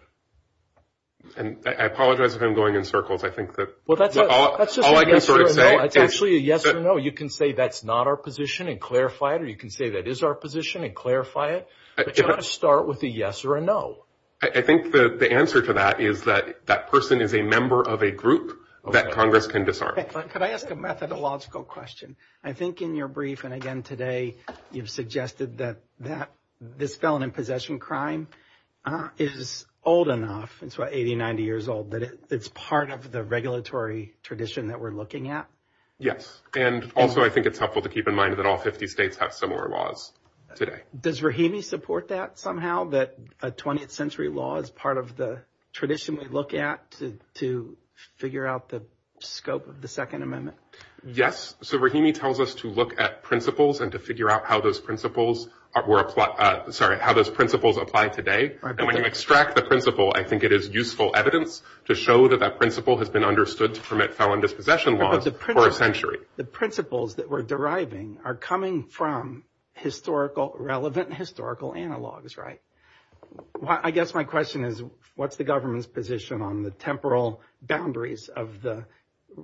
And I apologize if I'm going in circles, I think that's all I can sort of say. It's actually a yes or no. You can say that's not our position and clarify it, you can say that is our position and clarify it, but you gotta start with a yes or a no. I think the answer to that is that that person is a member of a group that Congress can disarm. Could I ask a methodological question? I think in your brief, and again today, you've suggested that this felon in possession crime is old enough, it's about 80, 90 years old, that it's part of the regulatory tradition that we're looking at. Yes, and also I think it's helpful to keep in mind that all 50 states have similar laws today. Does Rahimi support that somehow, that a 20th century law is part of the tradition we look at to figure out the scope of the Second Amendment? Yes, so Rahimi tells us to look at principles and to figure out how those principles were applied, sorry, how those principles apply today. And when you extract the principle, I think it is useful evidence to show that that principle has been understood to permit felon dispossession laws for a century. The principles that we're deriving are coming from relevant historical analogs, right? I guess my question is, what's the government's position on the temporal boundaries of the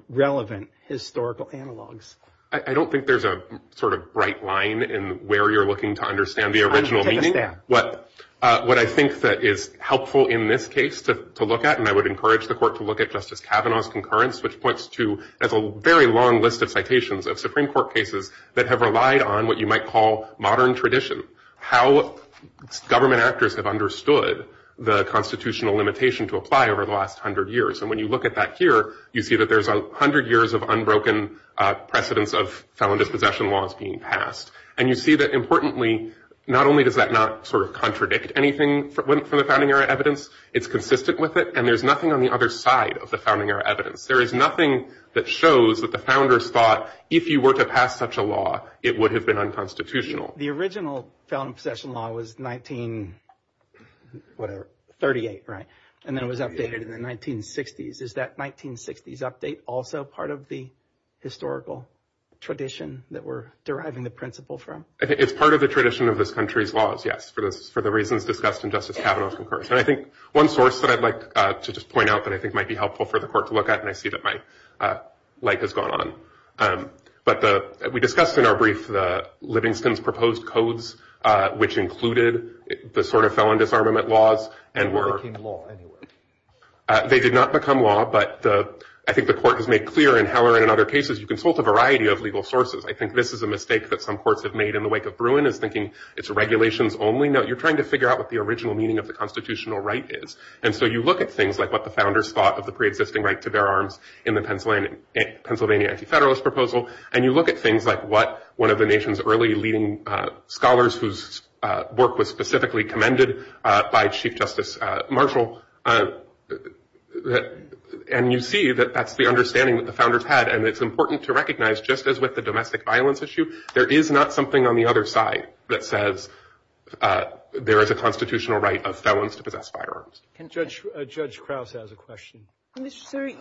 relevant historical analogs? I don't think there's a sort of bright line in where you're looking to understand the original meaning. What I think that is helpful in this case to look at, and I would encourage the court to look at Justice Kavanaugh's concurrence, which points to a very long list of citations of Supreme Court cases that have relied on what you might call modern tradition, how government actors have understood the constitutional limitation to apply over the last 100 years. And when you look at that here, you see that there's 100 years of unbroken precedence of felon dispossession laws being passed. And you see that importantly, not only does that not sort of contradict anything from the founding era evidence, it's consistent with it, and there's nothing on the other side of the founding era evidence. There is nothing that shows that the founders thought if you were to pass such a law, it would have been unconstitutional. The original felon dispossession law was 1938, right? And then it was updated in the 1960s. Is that 1960s update also part of the historical tradition that we're deriving the principle from? It's part of the tradition of this country's laws, yes, for the reasons discussed in Justice Kavanaugh's concurrence. And I think one source that I'd like to just point out that I think might be helpful for the court to look at, and I see that my light has gone on. But we discussed in our brief the Livingston's proposed codes, which included the sort of felon disarmament laws, and were- They became law anyway. They did not become law, but I think the court has made clear in Heller and in other cases, you consult a variety of legal sources. I think this is a mistake that some courts have made in the wake of Bruin, is thinking it's a regulations only. No, you're trying to figure out what the original meaning of the constitutional right is. And so you look at things like what the founders thought of the pre-existing right to bear arms in the Pennsylvania Anti-Federalist Proposal. And you look at things like what one of the nation's early leading scholars whose work was specifically commended by Chief Justice Marshall. And you see that that's the understanding that the founders had. And it's important to recognize, just as with the domestic violence issue, there is not something on the other side that says there is a constitutional right of felons to possess firearms. Judge Krause has a question. Mr. Sury,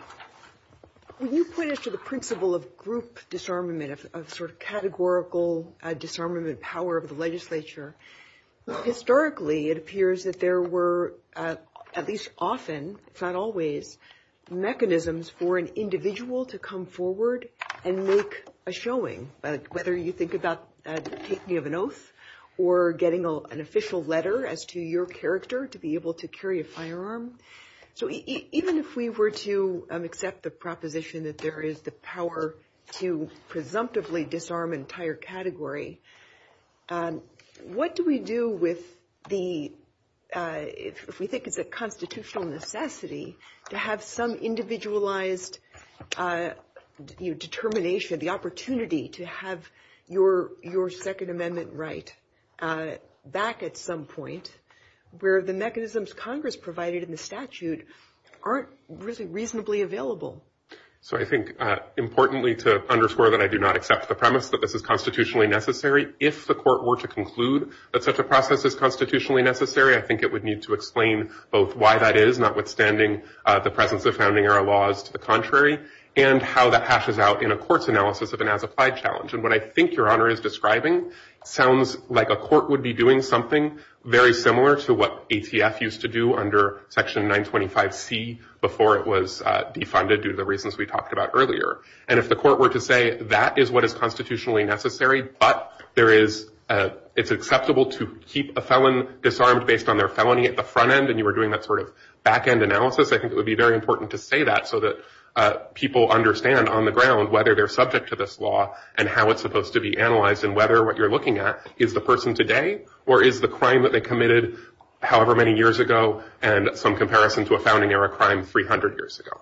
when you put it to the principle of group disarmament, of sort of categorical disarmament power of the legislature, historically, it appears that there were, at least often, it's not always, mechanisms for an individual to come forward and make a showing. Whether you think about the taking of an oath or getting an official letter as to your character to be able to carry a firearm. So even if we were to accept the proposition that there is the power to presumptively disarm an entire category, what do we do with the, if we think it's a constitutional necessity, to have some individualized determination, the opportunity to have your Second Amendment right back at some point where the mechanisms Congress provided in the statute aren't reasonably available? So I think, importantly, to underscore that I do not accept the premise that this is constitutionally necessary, if the court were to conclude that such a process is constitutionally necessary, I think it would need to explain both why that is, notwithstanding the presence of founding-era laws to the contrary, and how that hashes out in a court's analysis of an as-applied challenge. And what I think Your Honor is describing sounds like a court would be doing something very similar to what ATF used to do under Section 925C before it was defunded due to the reasons we talked about earlier. And if the court were to say that is what is constitutionally necessary, but it's acceptable to keep a felon disarmed based on their felony at the front end, and you were doing that sort of back-end analysis, I think it would be very important to say that so that people understand on the ground whether they're subject to this law and how it's supposed to be analyzed and whether what you're looking at is the person today or is the crime that they committed however many years ago and some comparison to a founding-era crime 300 years ago.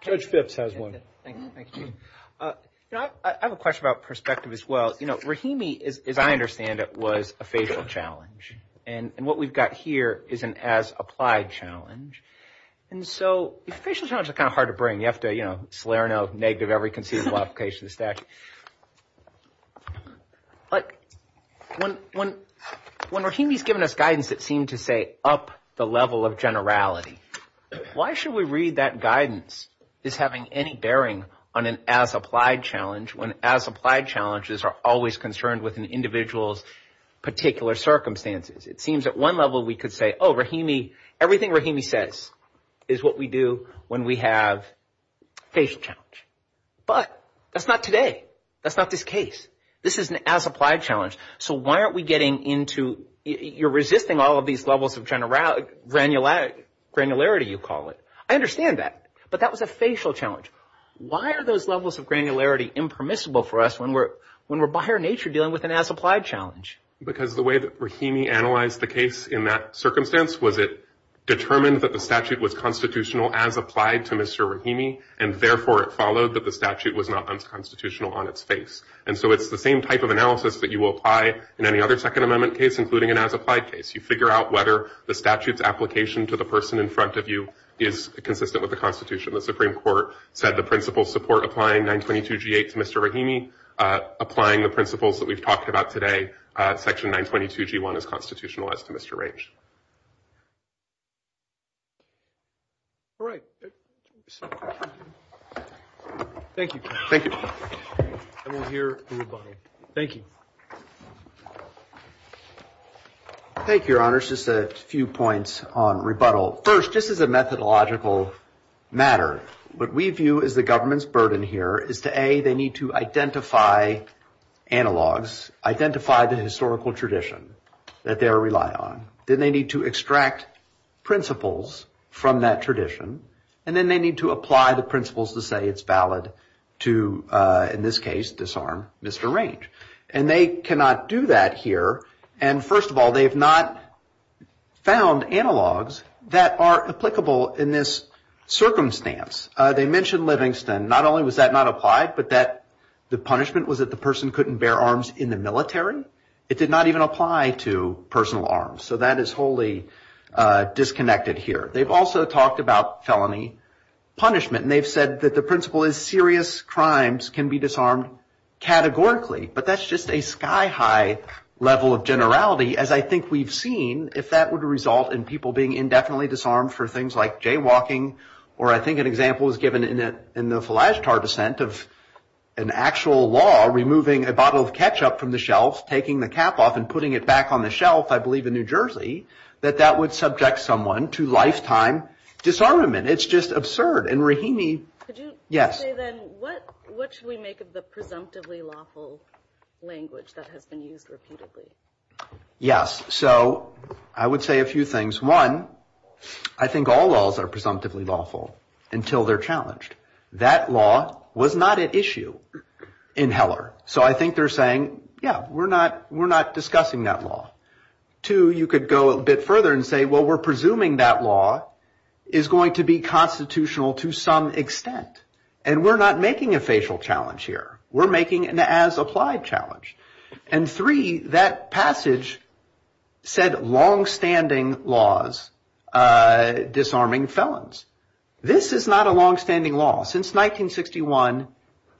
Judge Phipps has one. Thank you. I have a question about perspective as well. Rahimi, as I understand it, was a facial challenge. And what we've got here is an as-applied challenge. And so, facial challenges are kind of hard to bring. You have to slay or no negative every conceivable application of the statute. When Rahimi's given us guidance that seemed to say up the level of generality, why should we read that guidance as having any bearing on an as-applied challenge when as-applied challenges are always concerned with an individual's particular circumstances? It seems at one level we could say, oh, Rahimi, everything Rahimi says is what we do when we have facial challenge. But that's not today. That's not this case. This is an as-applied challenge. So why aren't we getting into, you're resisting all of these levels of granularity, you call it. I understand that. But that was a facial challenge. Why are those levels of granularity impermissible for us when we're by our nature dealing with an as-applied challenge? Because the way that Rahimi analyzed the case in that circumstance was it determined that the statute was constitutional as applied to Mr. Rahimi, and therefore it followed that the statute was not unconstitutional on its face. And so it's the same type of analysis that you will apply in any other Second Amendment case, including an as-applied case. You figure out whether the statute's application to the person in front of you is consistent with the Constitution. The Supreme Court said the principles support applying 922G8 to Mr. Rahimi. Applying the principles that we've talked about today, section 922G1 is constitutional as to Mr. Range. All right. Thank you. Thank you. And we'll hear a rebuttal. Thank you. Thank you, Your Honors. Just a few points on rebuttal. First, this is a methodological matter. What we view as the government's burden here is to A, they need to identify analogs, identify the historical tradition that they rely on. Then they need to extract principles from that tradition. And then they need to apply the principles to say it's valid to, in this case, disarm Mr. Range. And they cannot do that here. And first of all, they have not found analogs that are applicable in this circumstance. They mentioned Livingston. Not only was that not applied, but the punishment was that the person couldn't bear arms in the military. It did not even apply to personal arms. So that is wholly disconnected here. They've also talked about felony punishment. And they've said that the principle is serious crimes can be disarmed categorically. But that's just a sky-high level of generality, as I think we've seen. If that would result in people being indefinitely disarmed for things like jaywalking, or I think an example was given in the Falagetar dissent of an actual law removing a bottle of ketchup from the shelf, taking the cap off and putting it back on the shelf, I believe in New Jersey, that that would subject someone to lifetime disarmament. It's just absurd. Could you say then, what should we make of the presumptively lawful language that has been used repeatedly? Yes, so I would say a few things. One, I think all laws are presumptively lawful until they're challenged. That law was not at issue in Heller. So I think they're saying, yeah, we're not discussing that law. Two, you could go a bit further and say, well, we're presuming that law is going to be constitutional to some extent. And we're not making a facial challenge here. We're making an as-applied challenge. And three, that passage said longstanding laws disarming felons. This is not a longstanding law. Since 1961,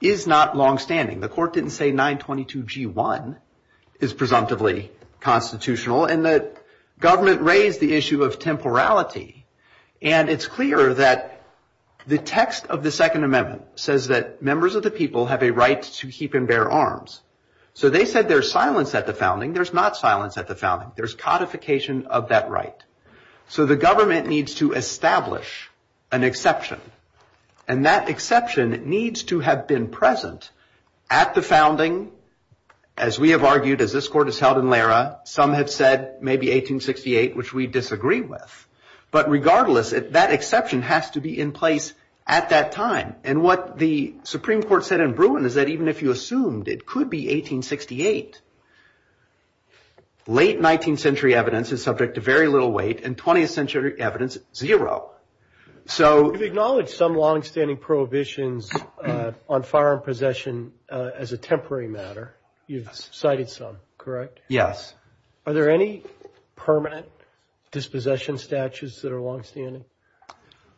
it is not longstanding. The court didn't say 922 G1 is presumptively constitutional. And the government raised the issue of temporality. And it's clear that the text of the Second Amendment says that members of the people have a right to keep and bear arms. So they said there's silence at the founding. There's not silence at the founding. There's codification of that right. So the government needs to establish an exception. And that exception needs to have been present at the founding. As we have argued, as this court has held in Lara, some have said maybe 1868, which we disagree with. But regardless, that exception has to be in place at that time. And what the Supreme Court said in Bruin is that even if you assumed it could be 1868, late 19th century evidence is subject to very little weight and 20th century evidence, zero. So- You've acknowledged some longstanding prohibitions on firearm possession as a temporary matter. You've cited some, correct? Yes. Are there any permanent dispossession statutes that are longstanding?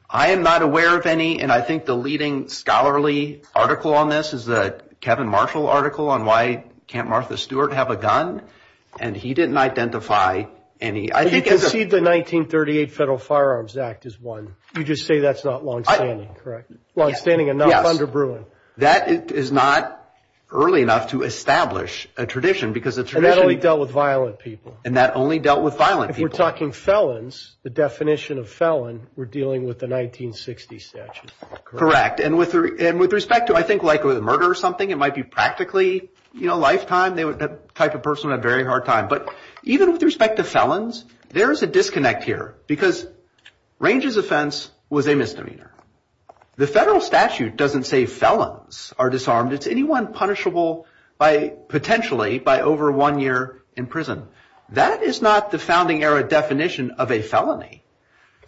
I am not aware of any. And I think the leading scholarly article on this is a Kevin Marshall article on why can't Martha Stewart have a gun. And he didn't identify any. I think it's a- You concede the 1938 Federal Firearms Act is one. You just say that's not longstanding, correct? Longstanding enough under Bruin. That is not early enough to establish a tradition. And that only dealt with violent people. And that only dealt with violent people. If we're talking felons, the definition of felon, we're dealing with the 1960 statute. Correct. And with respect to, I think, like a murder or something, it might be practically lifetime. That type of person would have a very hard time. But even with respect to felons, there is a disconnect here. Because Range's offense was a misdemeanor. The federal statute doesn't say felons are disarmed. It's anyone punishable, potentially, by over one year in prison. That is not the founding era definition of a felony.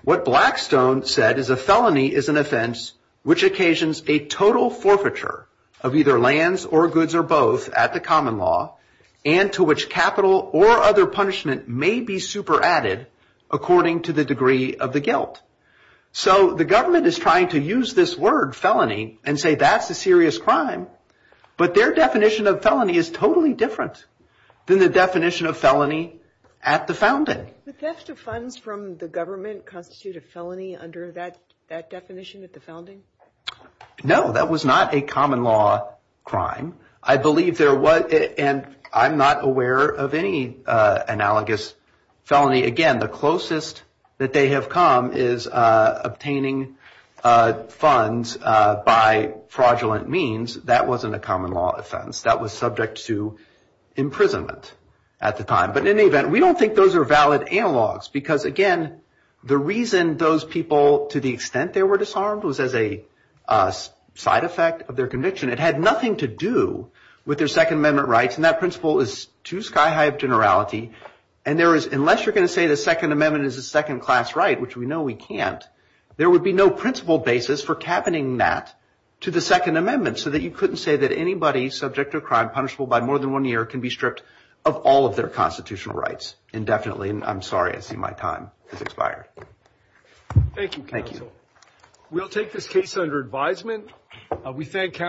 What Blackstone said is a felony is an offense which occasions a total forfeiture of either lands or goods or both at the common law, and to which capital or other punishment may be super added according to the degree of the guilt. So the government is trying to use this word felony and say that's a serious crime. But their definition of felony is totally different than the definition of felony at the founding. The theft of funds from the government constitute a felony under that definition at the founding? No, that was not a common law crime. I believe there was, and I'm not aware of any analogous felony. Again, the closest that they have come is obtaining funds by fraudulent means. That wasn't a common law offense. That was subject to imprisonment at the time. But in any event, we don't think those are valid analogs. Because again, the reason those people, to the extent they were disarmed, was as a side effect of their conviction. It had nothing to do with their Second Amendment rights. And that principle is too sky high of generality. And there is, unless you're going to say the Second Amendment is a second class right, which we know we can't, there would be no principle basis for cabining that to the Second Amendment. So that you couldn't say that anybody subject to a crime punishable by more than one year can be stripped of all of their constitutional rights indefinitely. And I'm sorry. I see my time has expired. Thank you, counsel. We'll take this case under advisement. We thank counsel.